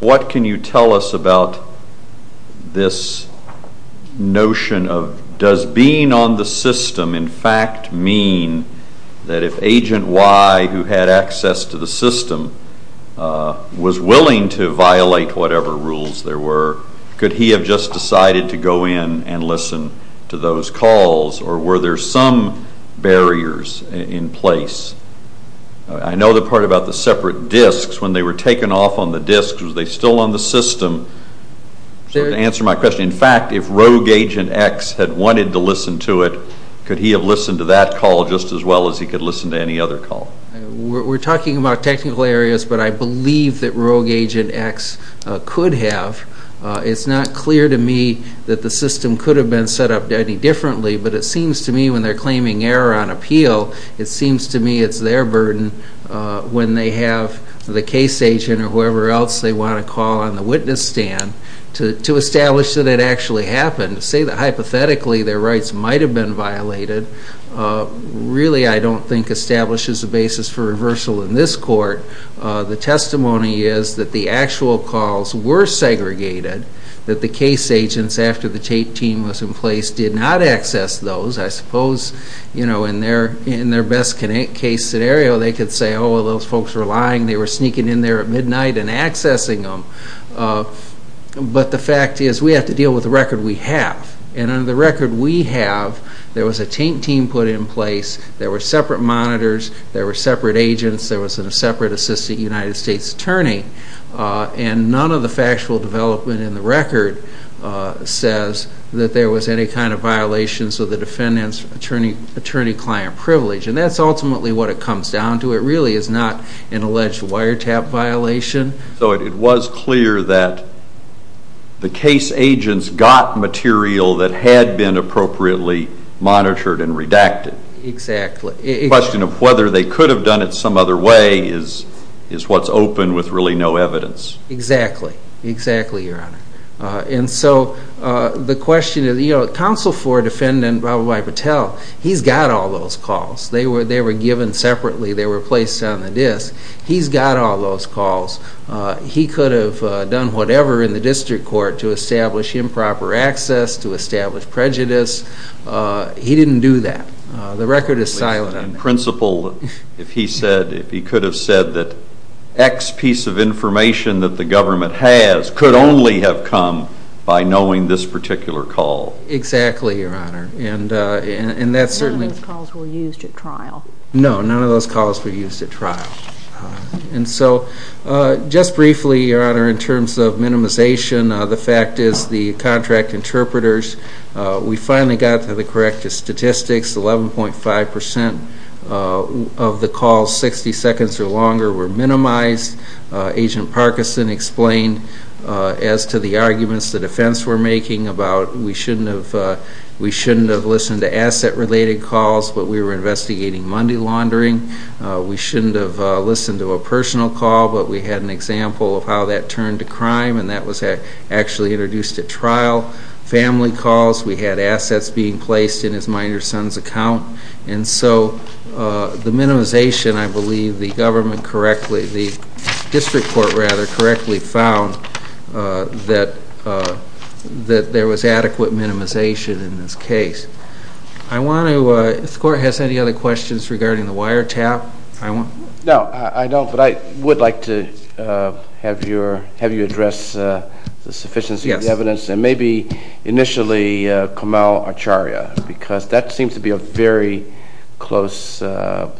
what can you tell us about this notion of does being on the system in fact mean that if Agent Y, who had access to the system, was willing to violate whatever rules there were, could he have just decided to go in and listen to those calls, or were there some barriers in place? I know the part about the separate disks, when they were taken off on the disks, was they still on the system? To answer my question, in fact, if Rogue Agent X had wanted to listen to it, could he have listened to that call just as well as he could listen to any other call? We're talking about technical areas, but I believe that Rogue Agent X could have. It's not clear to me that the system could have been set up any differently, but it seems to me when they're claiming error on appeal, it seems to me it's their burden, when they have the case agent or whoever else they want to call on the witness stand, to establish that it actually happened. To say that hypothetically their rights might have been violated, really I don't think establishes a basis for reversal in this court. The testimony is that the actual calls were segregated, that the case agents, after the take team was in place, did not access those. I suppose in their best case scenario, they could say, oh, those folks were lying, they were sneaking in there at midnight and accessing them. But the fact is, we have to deal with the record we have. And in the record we have, there was a take team put in place, there were separate monitors, there were separate agents, there was a separate assistant United States attorney, and none of the factual development in the record says that there was any kind of violations of the defendant's attorney-client privilege. And that's ultimately what it comes down to. It really is not an alleged wiretap violation. So it was clear that the case agents got material that had been appropriately monitored and redacted. Exactly. The question of whether they could have done it some other way is what's open with really no evidence. Exactly. Exactly, Your Honor. And so the question is, you know, counsel for a defendant, Rababai Patel, he's got all those calls. They were given separately, they were placed on a disk. He's got all those calls. He could have done whatever in the district court to establish improper access, to establish prejudice. He didn't do that. The record is silent on that. In principle, if he could have said that X piece of information that the government has could only have come by knowing this particular call. Exactly, Your Honor. None of those calls were used at trial. No, none of those calls were used at trial. And so just briefly, Your Honor, in terms of minimization, the fact is the contract interpreters, we finally got to the corrective statistics, 11.5% of the calls 60 seconds or longer were minimized. Agent Parkinson explained as to the arguments the defense were making about we shouldn't have listened to asset-related calls, but we were investigating Monday laundering. We shouldn't have listened to a personal call, but we had an example of how that turned to crime, and that was actually introduced at trial. Family calls, we had assets being placed in his minor son's account. And so the minimization, I believe, the government correctly, the district court rather correctly found that there was adequate minimization in this case. Does the court have any other questions regarding the wiretap? No, I don't, but I would like to have you address the sufficiency of the evidence and maybe initially Kamal Acharya, because that seems to be a very close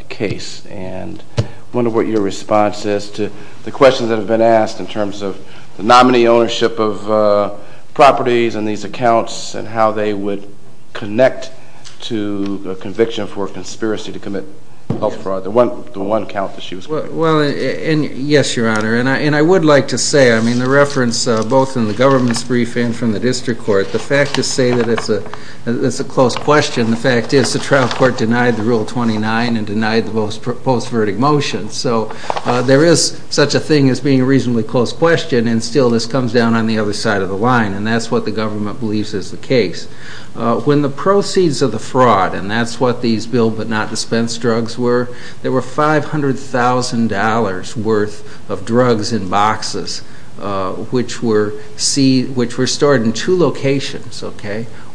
case. And I wonder what your response is to the questions that have been asked in terms of the nominee ownership of properties and these accounts and how they would connect to the conviction for conspiracy to commit health fraud, the one account that she was talking about. Well, yes, Your Honor, and I would like to say, I mean, the reference both in the government's briefing from the district court, the fact is stated as a close question. The fact is the trial court denied the Rule 29 and denied the post-verdict motion. So there is such a thing as being a reasonably close question, and still this comes down on the other side of the line, and that's what the government believes is the case. When the proceeds of the fraud, and that's what these build but not dispense drugs were, there were $500,000 worth of drugs in boxes, which were stored in two locations.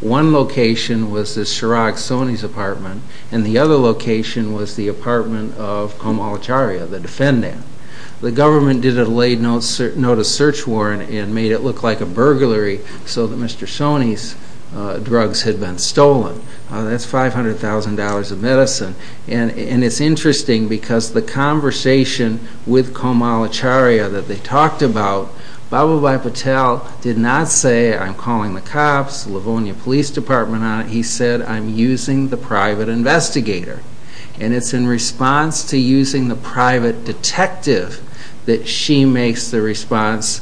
One location was the Chirag Soni's apartment, and the other location was the apartment of Kamal Acharya, the defendant. The government did a late notice search warrant and made it look like a burglary so that Mr. Soni's drugs had been stolen. That's $500,000 of medicine. And it's interesting because the conversation with Kamal Acharya that they talked about, Babubhai Patel did not say, I'm calling the cops, Livonia Police Department, he said, I'm using the private investigator. And it's in response to using the private detective that she makes the response,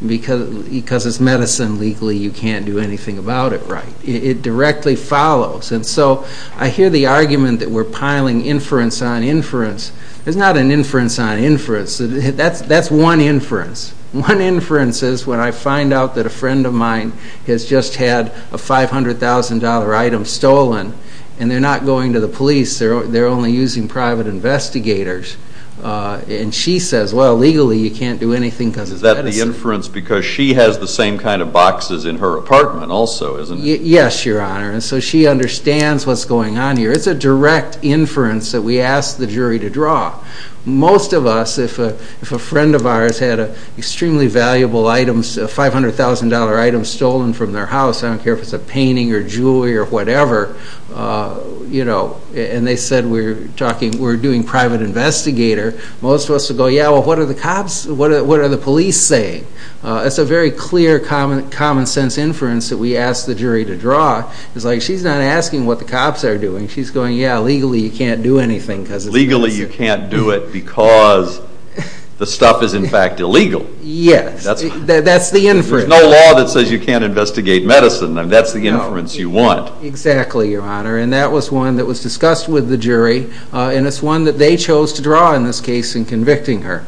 because it's medicine, legally you can't do anything about it, right? It directly follows. And so I hear the argument that we're piling inference on inference. It's not an inference on inference. That's one inference. One inference is when I find out that a friend of mine has just had a $500,000 item stolen, and they're not going to the police. They're only using private investigators. And she says, well, legally you can't do anything about it. Is that the inference because she has the same kind of boxes in her apartment also, isn't it? Yes, Your Honor. And so she understands what's going on here. It's a direct inference that we ask the jury to draw. Most of us, if a friend of ours had an extremely valuable item, a $500,000 item stolen from their house, I don't care if it's a painting or jewelry or whatever, you know, and they said we're doing private investigator, most of us would go, yeah, well, what are the cops, what are the police saying? It's a very clear common-sense inference that we ask the jury to draw. It's like she's not asking what the cops are doing. She's going, yeah, legally you can't do anything. Legally you can't do it because the stuff is, in fact, illegal. Yes, that's the inference. If there's no law that says you can't investigate medicine, then that's the inference you want. Exactly, Your Honor. And that was one that was discussed with the jury, and it's one that they chose to draw in this case in convicting her.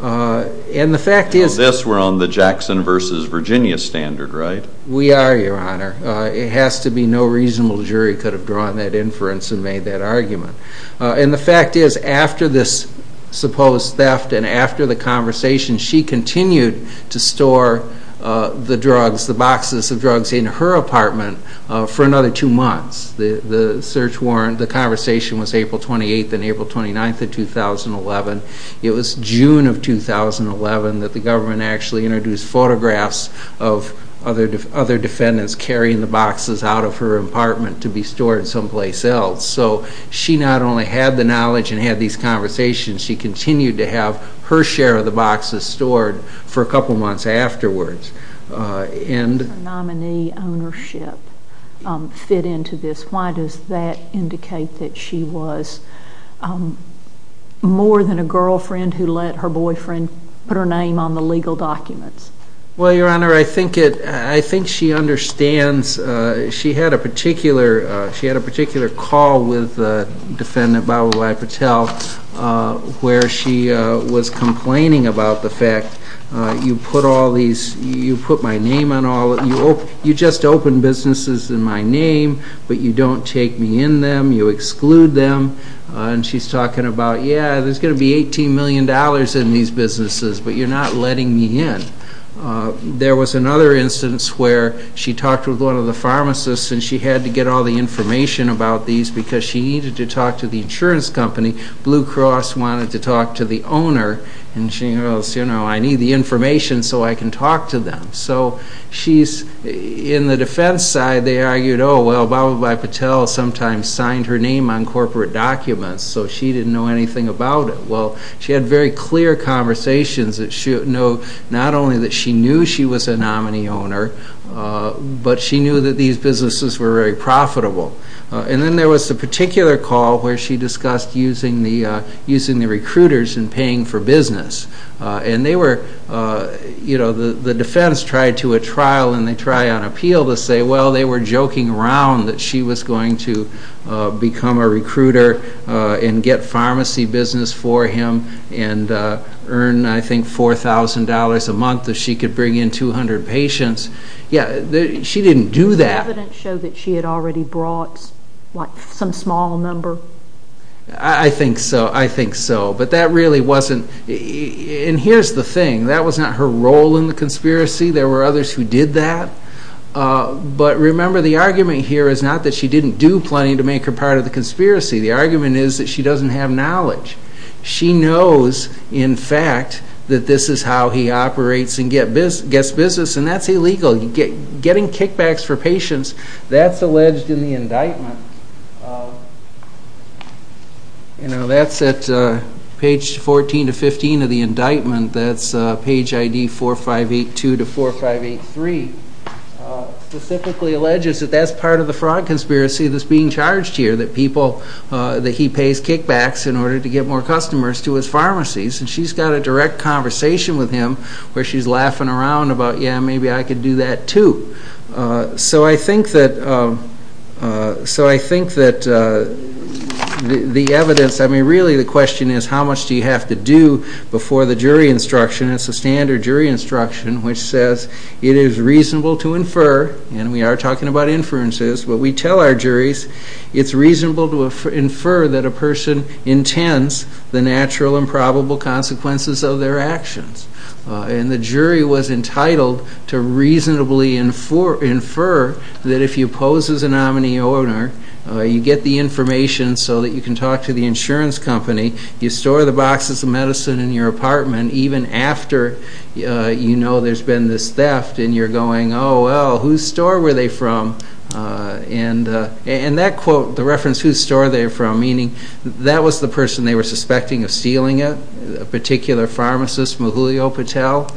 And the fact is we're on the Jackson versus Virginia standard, right? We are, Your Honor. It has to be no reasonable jury could have drawn that inference and made that argument. And the fact is after this supposed theft and after the conversation, she continued to store the drugs, the boxes of drugs, in her apartment for another two months. The search warrant, the conversation was April 28th and April 29th of 2011. It was June of 2011 that the government actually introduced photographs of other defendants carrying the boxes out of her apartment to be stored someplace else. So she not only had the knowledge and had these conversations, she continued to have her share of the boxes stored for a couple of months afterwards. How did the nominee ownership fit into this? Why does that indicate that she was more than a girlfriend who let her boyfriend put her name on the legal documents? Well, Your Honor, I think she understands. She had a particular call with Defendant Babu-I-Patel where she was complaining about the fact, you put my name on all of these, you just open businesses in my name, but you don't take me in them, you exclude them. And she's talking about, yeah, there's going to be $18 million in these businesses, but you're not letting me in. There was another instance where she talked with one of the pharmacists and she had to get all the information about these because she needed to talk to the insurance company. Blue Cross wanted to talk to the owner and she goes, you know, I need the information so I can talk to them. So she's in the defense side, they argued, oh, well, Babu-I-Patel sometimes signed her name on corporate documents, so she didn't know anything about it. Well, she had very clear conversations that she knew not only that she knew she was a nominee owner, but she knew that these businesses were very profitable. And then there was a particular call where she discussed using the recruiters and paying for business. And they were, you know, the defense tried to a trial and they tried on appeal to say, well, they were joking around that she was going to become a recruiter and get pharmacy business for him and earn, I think, $4,000 a month if she could bring in 200 patients. Yeah, she didn't do that. The evidence showed that she had already brought, like, some small number. I think so, I think so. But that really wasn't, and here's the thing, that was not her role in the conspiracy. There were others who did that. But remember, the argument here is not that she didn't do plain to make her part of the conspiracy. The argument is that she doesn't have knowledge. She knows, in fact, that this is how he operates and gets business, and that's illegal. Getting kickbacks for patients, that's alleged in the indictment. You know, that's at page 14 to 15 of the indictment. That's page ID 4582 to 4583. Specifically alleges that that's part of the fraud conspiracy that's being charged here, that people, that he pays kickbacks in order to get more customers to his pharmacies. And she's got a direct conversation with him where she's laughing around about, yeah, maybe I could do that too. So I think that the evidence, I mean, really the question is, how much do you have to do before the jury instruction? It's a standard jury instruction which says it is reasonable to infer, and we are talking about inferences, but we tell our juries, it's reasonable to infer that a person intends the natural and probable consequences of their actions. And the jury was entitled to reasonably infer that if you pose as a nominee owner, you get the information so that you can talk to the insurance company, you store the boxes of medicine in your apartment even after you know there's been this theft, and you're going, oh, well, whose store were they from? And that quote, the reference, whose store are they from, meaning that was the person they were suspecting of stealing it, a particular pharmacist, Mahulio Patel,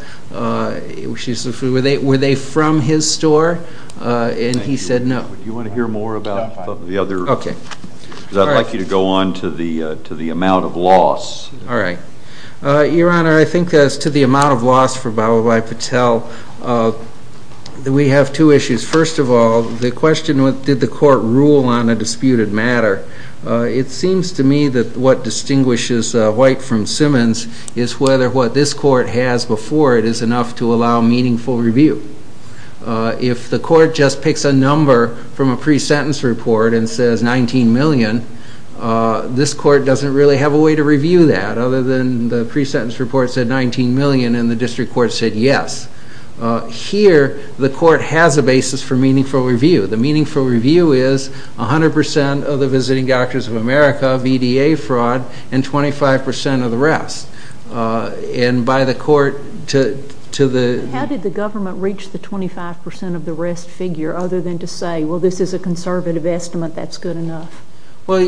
were they from his store? And he said no. Do you want to hear more about the other? Okay. Because I'd like you to go on to the amount of loss. All right. Your Honor, I think as to the amount of loss for Balabai Patel, we have two issues. First of all, the question was did the court rule on a disputed matter? It seems to me that what distinguishes White from Simmons is whether what this court has before it is enough to allow meaningful review. If the court just picks a number from a pre-sentence report and says 19 million, this court doesn't really have a way to review that other than the pre-sentence report said 19 million and the district court said yes. Here, the court has a basis for meaningful review. The meaningful review is 100% of the Visiting Doctors of America, VDA fraud, and 25% of the rest. And by the court to the- How did the government reach the 25% of the rest figure other than to say, well, this is a conservative estimate, that's good enough? Well,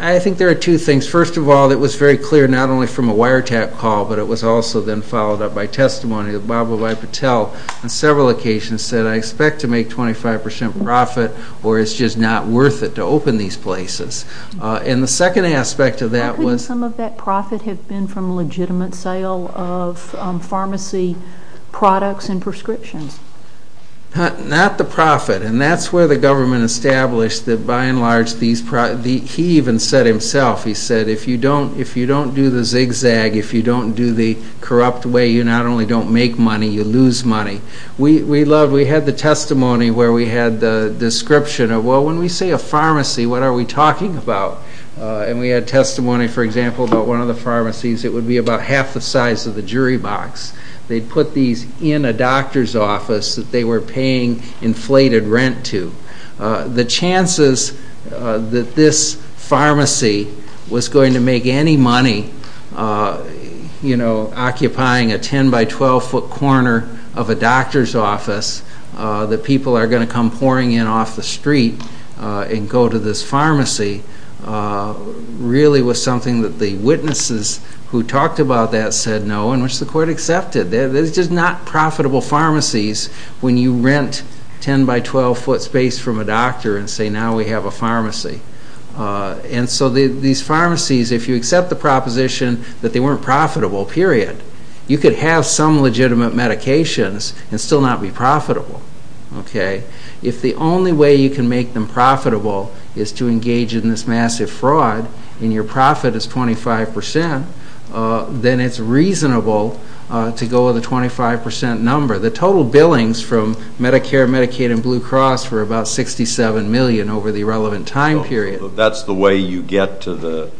I think there are two things. First of all, it was very clear not only from a wiretap call, but it was also then followed up by testimony of Balabai Patel on several occasions that I expect to make 25% profit or it's just not worth it to open these places. And the second aspect of that was- I think some of that profit had been from legitimate sale of pharmacy products and prescriptions. Not the profit. And that's where the government established that by and large, he even said himself, he said if you don't do the zigzag, if you don't do the corrupt way, you not only don't make money, you lose money. We had the testimony where we had the description of, well, when we say a pharmacy, what are we talking about? And we had testimony, for example, about one of the pharmacies. It would be about half the size of the jury box. They put these in a doctor's office that they were paying inflated rent to. The chances that this pharmacy was going to make any money, you know, that people are going to come pouring in off the street and go to this pharmacy, really was something that the witnesses who talked about that said no and which the court accepted. They're just not profitable pharmacies when you rent 10 by 12 foot space from a doctor and say now we have a pharmacy. And so these pharmacies, if you accept the proposition that they weren't profitable, period, you could have some legitimate medications and still not be profitable. If the only way you can make them profitable is to engage in this massive fraud and your profit is 25 percent, then it's reasonable to go with a 25 percent number. The total billings from Medicare, Medicaid, and Blue Cross were about 67 million over the relevant time period. That's the way you get to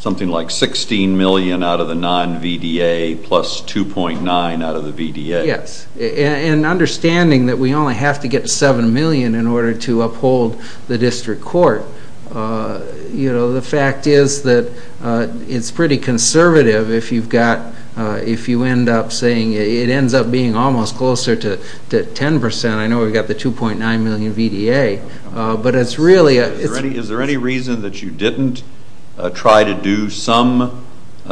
something like 16 million out of the non-VDA plus 2.9 out of the VDA. Yes. And understanding that we only have to get 7 million in order to uphold the district court, the fact is that it's pretty conservative if you end up saying it ends up being almost closer to 10 percent. I know we've got the 2.9 million VDA. Is there any reason that you didn't try to do some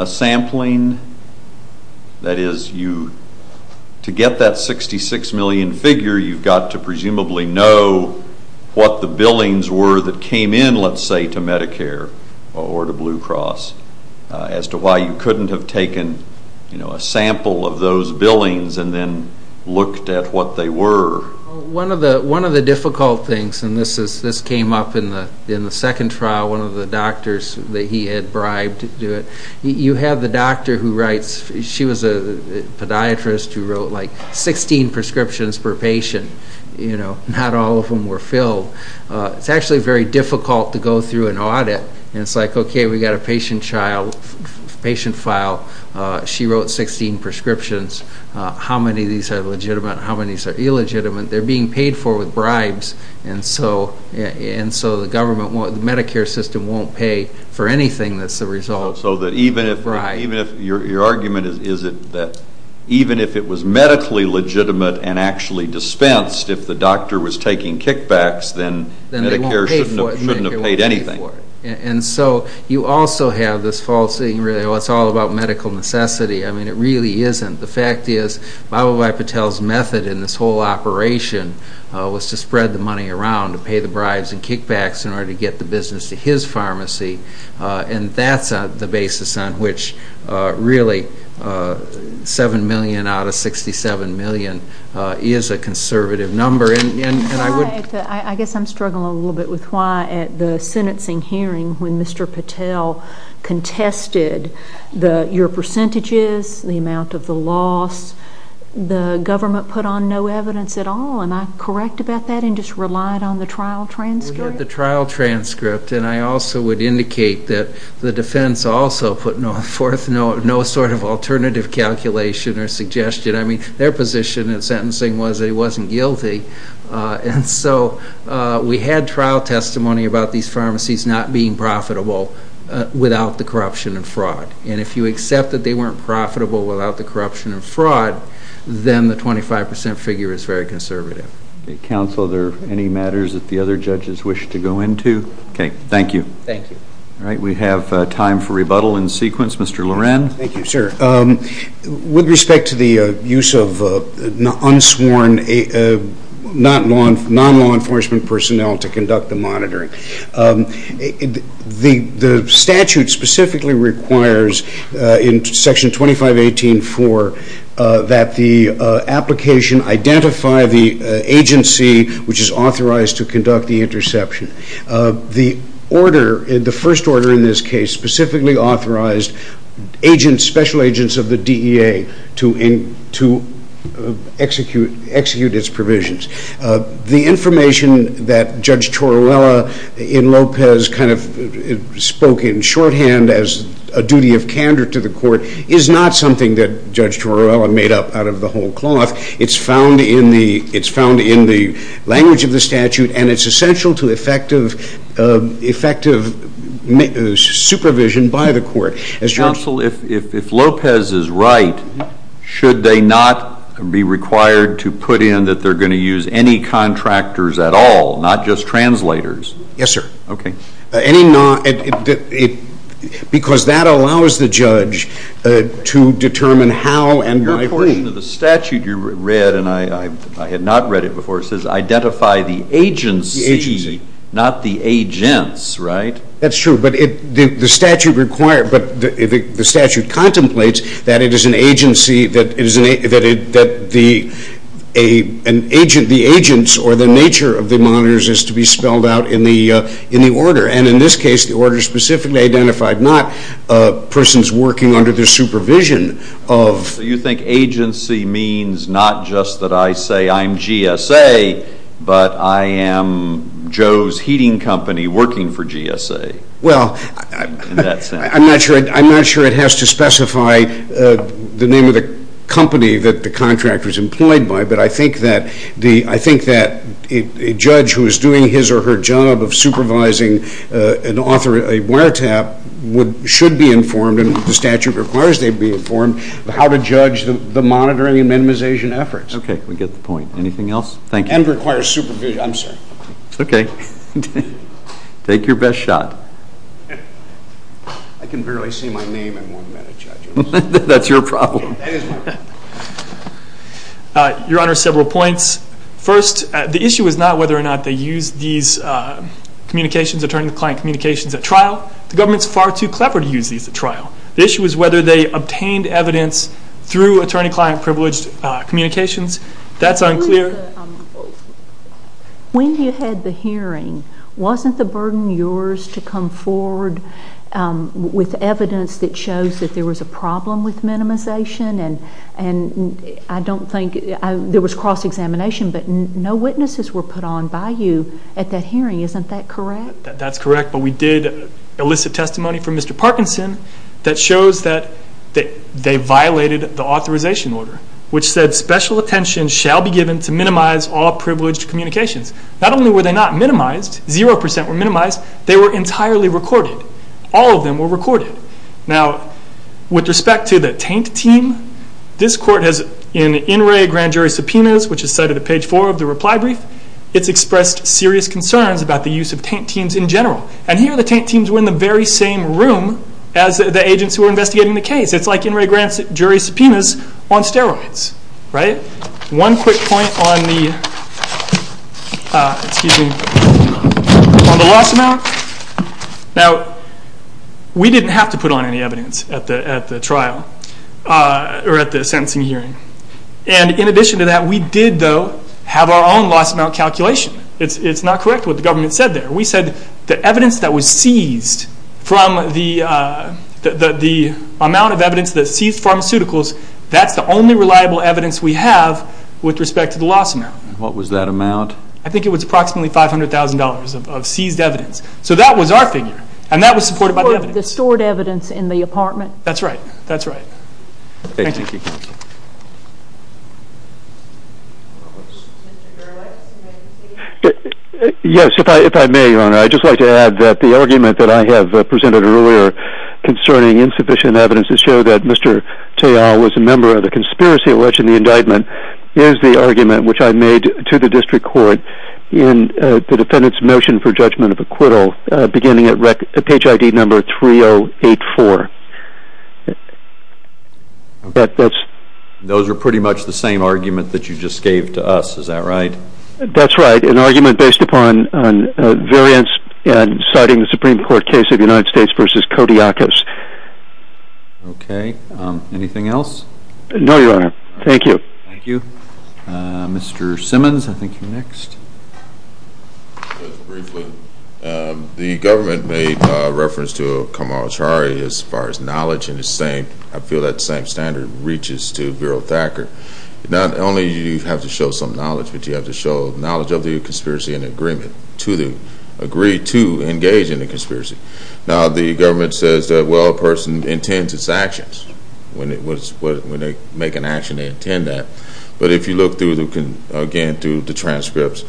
sampling? That is, to get that 66 million figure, you've got to presumably know what the billings were that came in, let's say, to Medicare or to Blue Cross as to why you couldn't have taken a sample of those billings and then looked at what they were. One of the difficult things, and this came up in the second trial, one of the doctors that he had bribed to do it, you have the doctor who writes, she was a podiatrist who wrote like 16 prescriptions per patient. Not all of them were filled. It's actually very difficult to go through an audit. It's like, okay, we've got a patient file. She wrote 16 prescriptions. How many of these are legitimate? How many of these are illegitimate? They're being paid for with bribes, and so the Medicare system won't pay for anything that's the result. So your argument is that even if it was medically legitimate and actually dispensed, if the doctor was taking kickbacks, then Medicare shouldn't have paid anything for it. And so you also have this false thing where it's all about medical necessity. I mean, it really isn't. The fact is, Bhabhabhai Patel's method in this whole operation was to spread the money around to pay the bribes and kickbacks in order to get the business to his pharmacy, and that's the basis on which really $7 million out of $67 million is a conservative number. I guess I'm struggling a little bit with why at the sentencing hearing when Mr. Patel contested your percentages, the amount of the loss, the government put on no evidence at all. Am I correct about that and just relied on the trial transcript? We had the trial transcript, and I also would indicate that the defense also put forth no sort of alternative calculation or suggestion. I mean, their position at sentencing was they wasn't guilty. And so we had trial testimony about these pharmacies not being profitable without the corruption and fraud. And if you accept that they weren't profitable without the corruption and fraud, then the 25% figure is very conservative. Counsel, are there any matters that the other judges wish to go into? Okay, thank you. Thank you. All right, we have time for rebuttal in sequence. Mr. Loren? Thank you, sir. With respect to the use of unsworn non-law enforcement personnel to conduct the monitoring, the statute specifically requires in Section 2518.4 that the application identify the agency which is authorized to conduct the interception. The first order in this case specifically authorized special agents of the DEA to execute its provisions. The information that Judge Torrella in Lopez kind of spoke in shorthand as a duty of candor to the court is not something that Judge Torrella made up out of the whole cloth. It's found in the language of the statute, and it's essential to effective supervision by the court. Counsel, if Lopez is right, should they not be required to put in that they're going to use any contractors at all, not just translators? Yes, sir. Okay. Because that allows the judge to determine how and by whom. In addition to the statute you read, and I had not read it before, it says identify the agency, not the agents, right? That's true, but the statute contemplates that it is an agency that the agents or the nature of the monitors is to be spelled out in the order. And in this case, the order is specifically identified not persons working under the supervision of So you think agency means not just that I say I'm GSA, but I am Joe's heating company working for GSA? Well, I'm not sure it has to specify the name of the company that the contractor is employed by, but I think that a judge who is doing his or her job of supervising and authoring a wiretap should be informed, and the statute requires they be informed, how to judge the monitoring and minimization efforts. Okay. We get the point. Anything else? Thank you. And require supervision, I'm sorry. Okay. Take your best shot. I can barely see my name in one minute, Judge. That's your problem. Your Honor, several points. First, the issue is not whether or not they use these communications, attorney-client communications at trial. The government is far too clever to use these at trial. The issue is whether they obtained evidence through attorney-client privileged communications. That's unclear. When you had the hearing, wasn't the burden yours to come forward with evidence that shows that there was a problem with minimization, and I don't think there was cross-examination, but no witnesses were put on by you at that hearing. That's correct, but we did elicit testimony from Mr. Parkinson that shows that they violated the authorization order, which said special attention shall be given to minimize all privileged communications. Not only were they not minimized, 0% were minimized, they were entirely recorded. All of them were recorded. Now, with respect to the tank team, this court has in the in-ray grand jury subpoenas, which is cited at page four of the reply brief. It's expressed serious concerns about the use of tank teams in general, and here the tank teams were in the very same room as the agents who were investigating the case. It's like in-ray grand jury subpoenas on steroids, right? One quick point on the loss amount. Now, we didn't have to put on any evidence at the trial or at the sentencing hearing, and in addition to that, we did, though, have our own loss amount calculation. It's not correct what the government said there. We said the evidence that was seized from the amount of evidence that seized pharmaceuticals, that's the only reliable evidence we have with respect to the loss amount. What was that amount? I think it was approximately $500,000 of seized evidence. So that was our figure, and that was supported by the evidence. The stored evidence in the apartment? That's right. That's right. Thank you. Yes, if I may, Your Honor, I'd just like to add that the argument that I have presented earlier concerning insufficient evidence to show that Mr. Teil was a member of the conspiracy alleged in the indictment is the argument which I made to the district court in the defendant's motion for judgment of acquittal, beginning at page ID number 3084. Those are pretty much the same arguments that you just gave to us. Is that right? That's right. An argument based upon variance in citing the Supreme Court case of the United States v. Kodiakos. Okay. Anything else? No, Your Honor. Thank you. Thank you. Mr. Simmons, I think you're next. Just briefly, the government made reference to Kamala Chari as far as knowledge and disdain. I feel that same standard reaches to Bureau Thacker. Not only do you have to show some knowledge, but you have to show knowledge of the conspiracy and agree to engage in the conspiracy. Now, the government says that, well, a person intends its actions. When they make an action, they intend that. But if you look again through the transcripts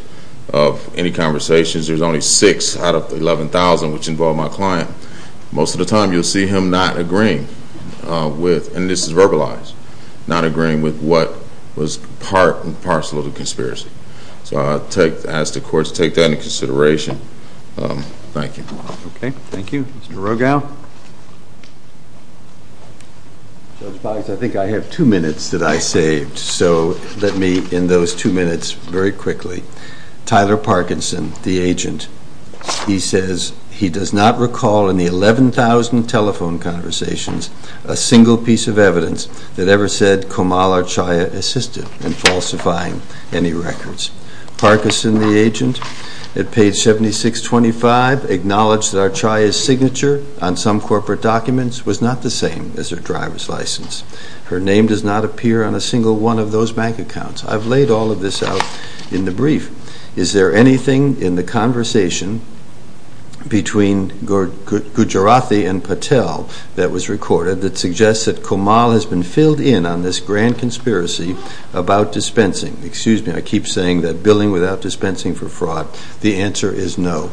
of any conversations, there's only six out of 11,000 which involve my client. Most of the time, you'll see him not agreeing with, and this is verbalized, not agreeing with what was part and parcel of the conspiracy. So I ask the courts to take that into consideration. Thank you. Okay. Thank you. Mr. Rogal? I think I have two minutes that I saved. So let me, in those two minutes, very quickly. Tyler Parkinson, the agent, he says he does not recall in the 11,000 telephone conversations a single piece of evidence that ever said Kamala Chari assisted in falsifying any records. Parkinson, the agent, at page 7625, acknowledged that Archaya's signature on some corporate documents was not the same as her driver's license. Her name does not appear on a single one of those bank accounts. I've laid all of this out in the brief. Is there anything in the conversation between Gujarati and Patel that was recorded that suggests that Kamala has been filled in on this grand conspiracy about dispensing? Excuse me, I keep saying that billing without dispensing for fraud, the answer is no.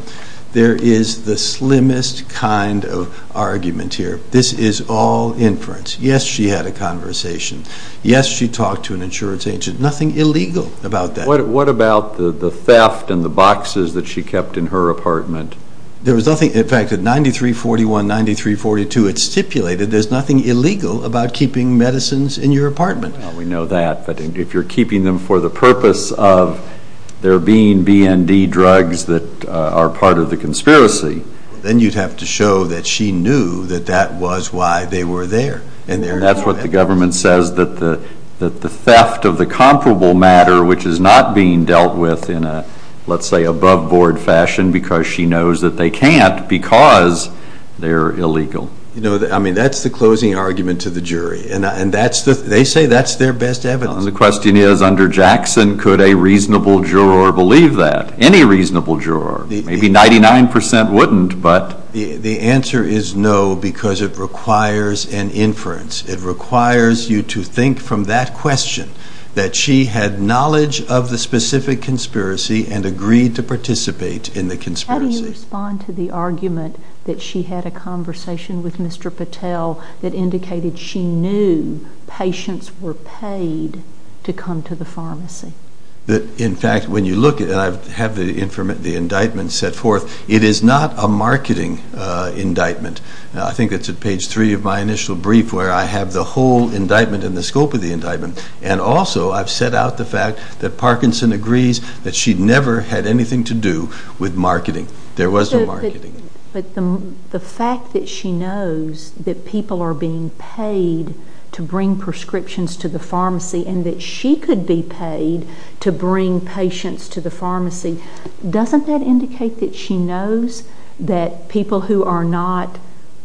There is the slimmest kind of argument here. This is all inference. Yes, she had a conversation. Yes, she talked to an insurance agent. Nothing illegal about that. What about the theft and the boxes that she kept in her apartment? There was nothing, in fact, at 9341, 9342, it's stipulated there's nothing illegal about keeping medicines in your apartment. We know that. But if you're keeping them for the purpose of there being BND drugs that are part of the conspiracy, then you'd have to show that she knew that that was why they were there. And that's what the government says, that the theft of the comparable matter, which is not being dealt with in a, let's say, above-board fashion because she knows that they can't because they're illegal. I mean, that's the closing argument to the jury. They say that's their best evidence. The question is, under Jackson, could a reasonable juror believe that? Any reasonable juror. Maybe 99 percent wouldn't, but... The answer is no because it requires an inference. It requires you to think from that question, that she had knowledge of the specific conspiracy and agreed to participate in the conspiracy. How do you respond to the argument that she had a conversation with Mr. Patel that indicated she knew patients were paid to come to the pharmacy? In fact, when you look at it, I have the indictment set forth. It is not a marketing indictment. I think it's at page three of my initial brief where I have the whole indictment and the scope of the indictment, and also I've set out the fact that Parkinson agrees that she never had anything to do with marketing. There was no marketing. The fact that she knows that people are being paid to bring prescriptions to the pharmacy and that she could be paid to bring patients to the pharmacy, doesn't that indicate that she knows that people who are not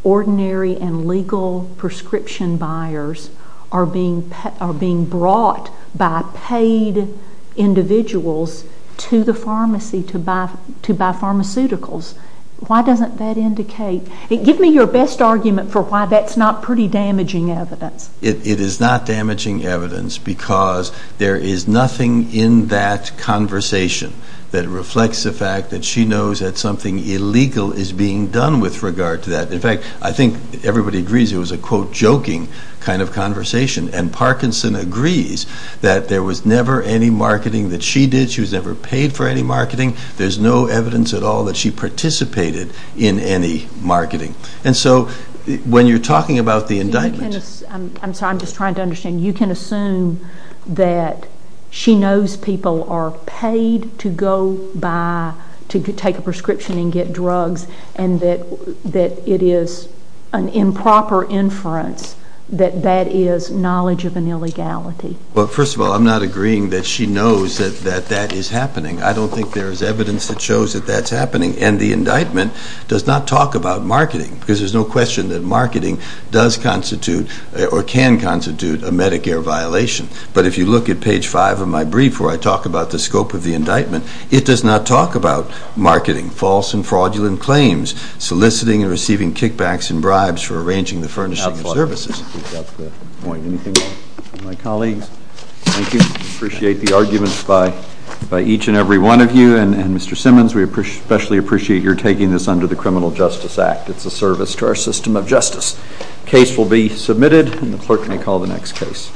ordinary and legal prescription buyers are being brought by paid individuals to the pharmacy to buy pharmaceuticals? Why doesn't that indicate? Give me your best argument for why that's not pretty damaging evidence. It is not damaging evidence because there is nothing in that conversation that reflects the fact that she knows that something illegal is being done with regard to that. In fact, I think everybody agrees it was a, quote, joking kind of conversation, and Parkinson agrees that there was never any marketing that she did. She was never paid for any marketing. There's no evidence at all that she participated in any marketing. And so when you're talking about the indictment... I'm sorry, I'm just trying to understand. You can assume that she knows people are paid to go by to take a prescription and get drugs and that it is an improper inference that that is knowledge of an illegality. Well, first of all, I'm not agreeing that she knows that that is happening. I don't think there is evidence that shows that that's happening. And the indictment does not talk about marketing because there's no question that marketing does constitute or can constitute a Medicare violation. But if you look at page 5 of my brief where I talk about the scope of the indictment, it does not talk about marketing false and fraudulent claims, soliciting and receiving kickbacks and bribes for arranging the furnishing of services. That's a good point. Anything from my colleagues? Thank you. I appreciate the arguments by each and every one of you. And Mr. Simmons, we especially appreciate your taking this under the Criminal Justice Act. It's a service to our system of justice. The case will be submitted and the clerk may call the next case.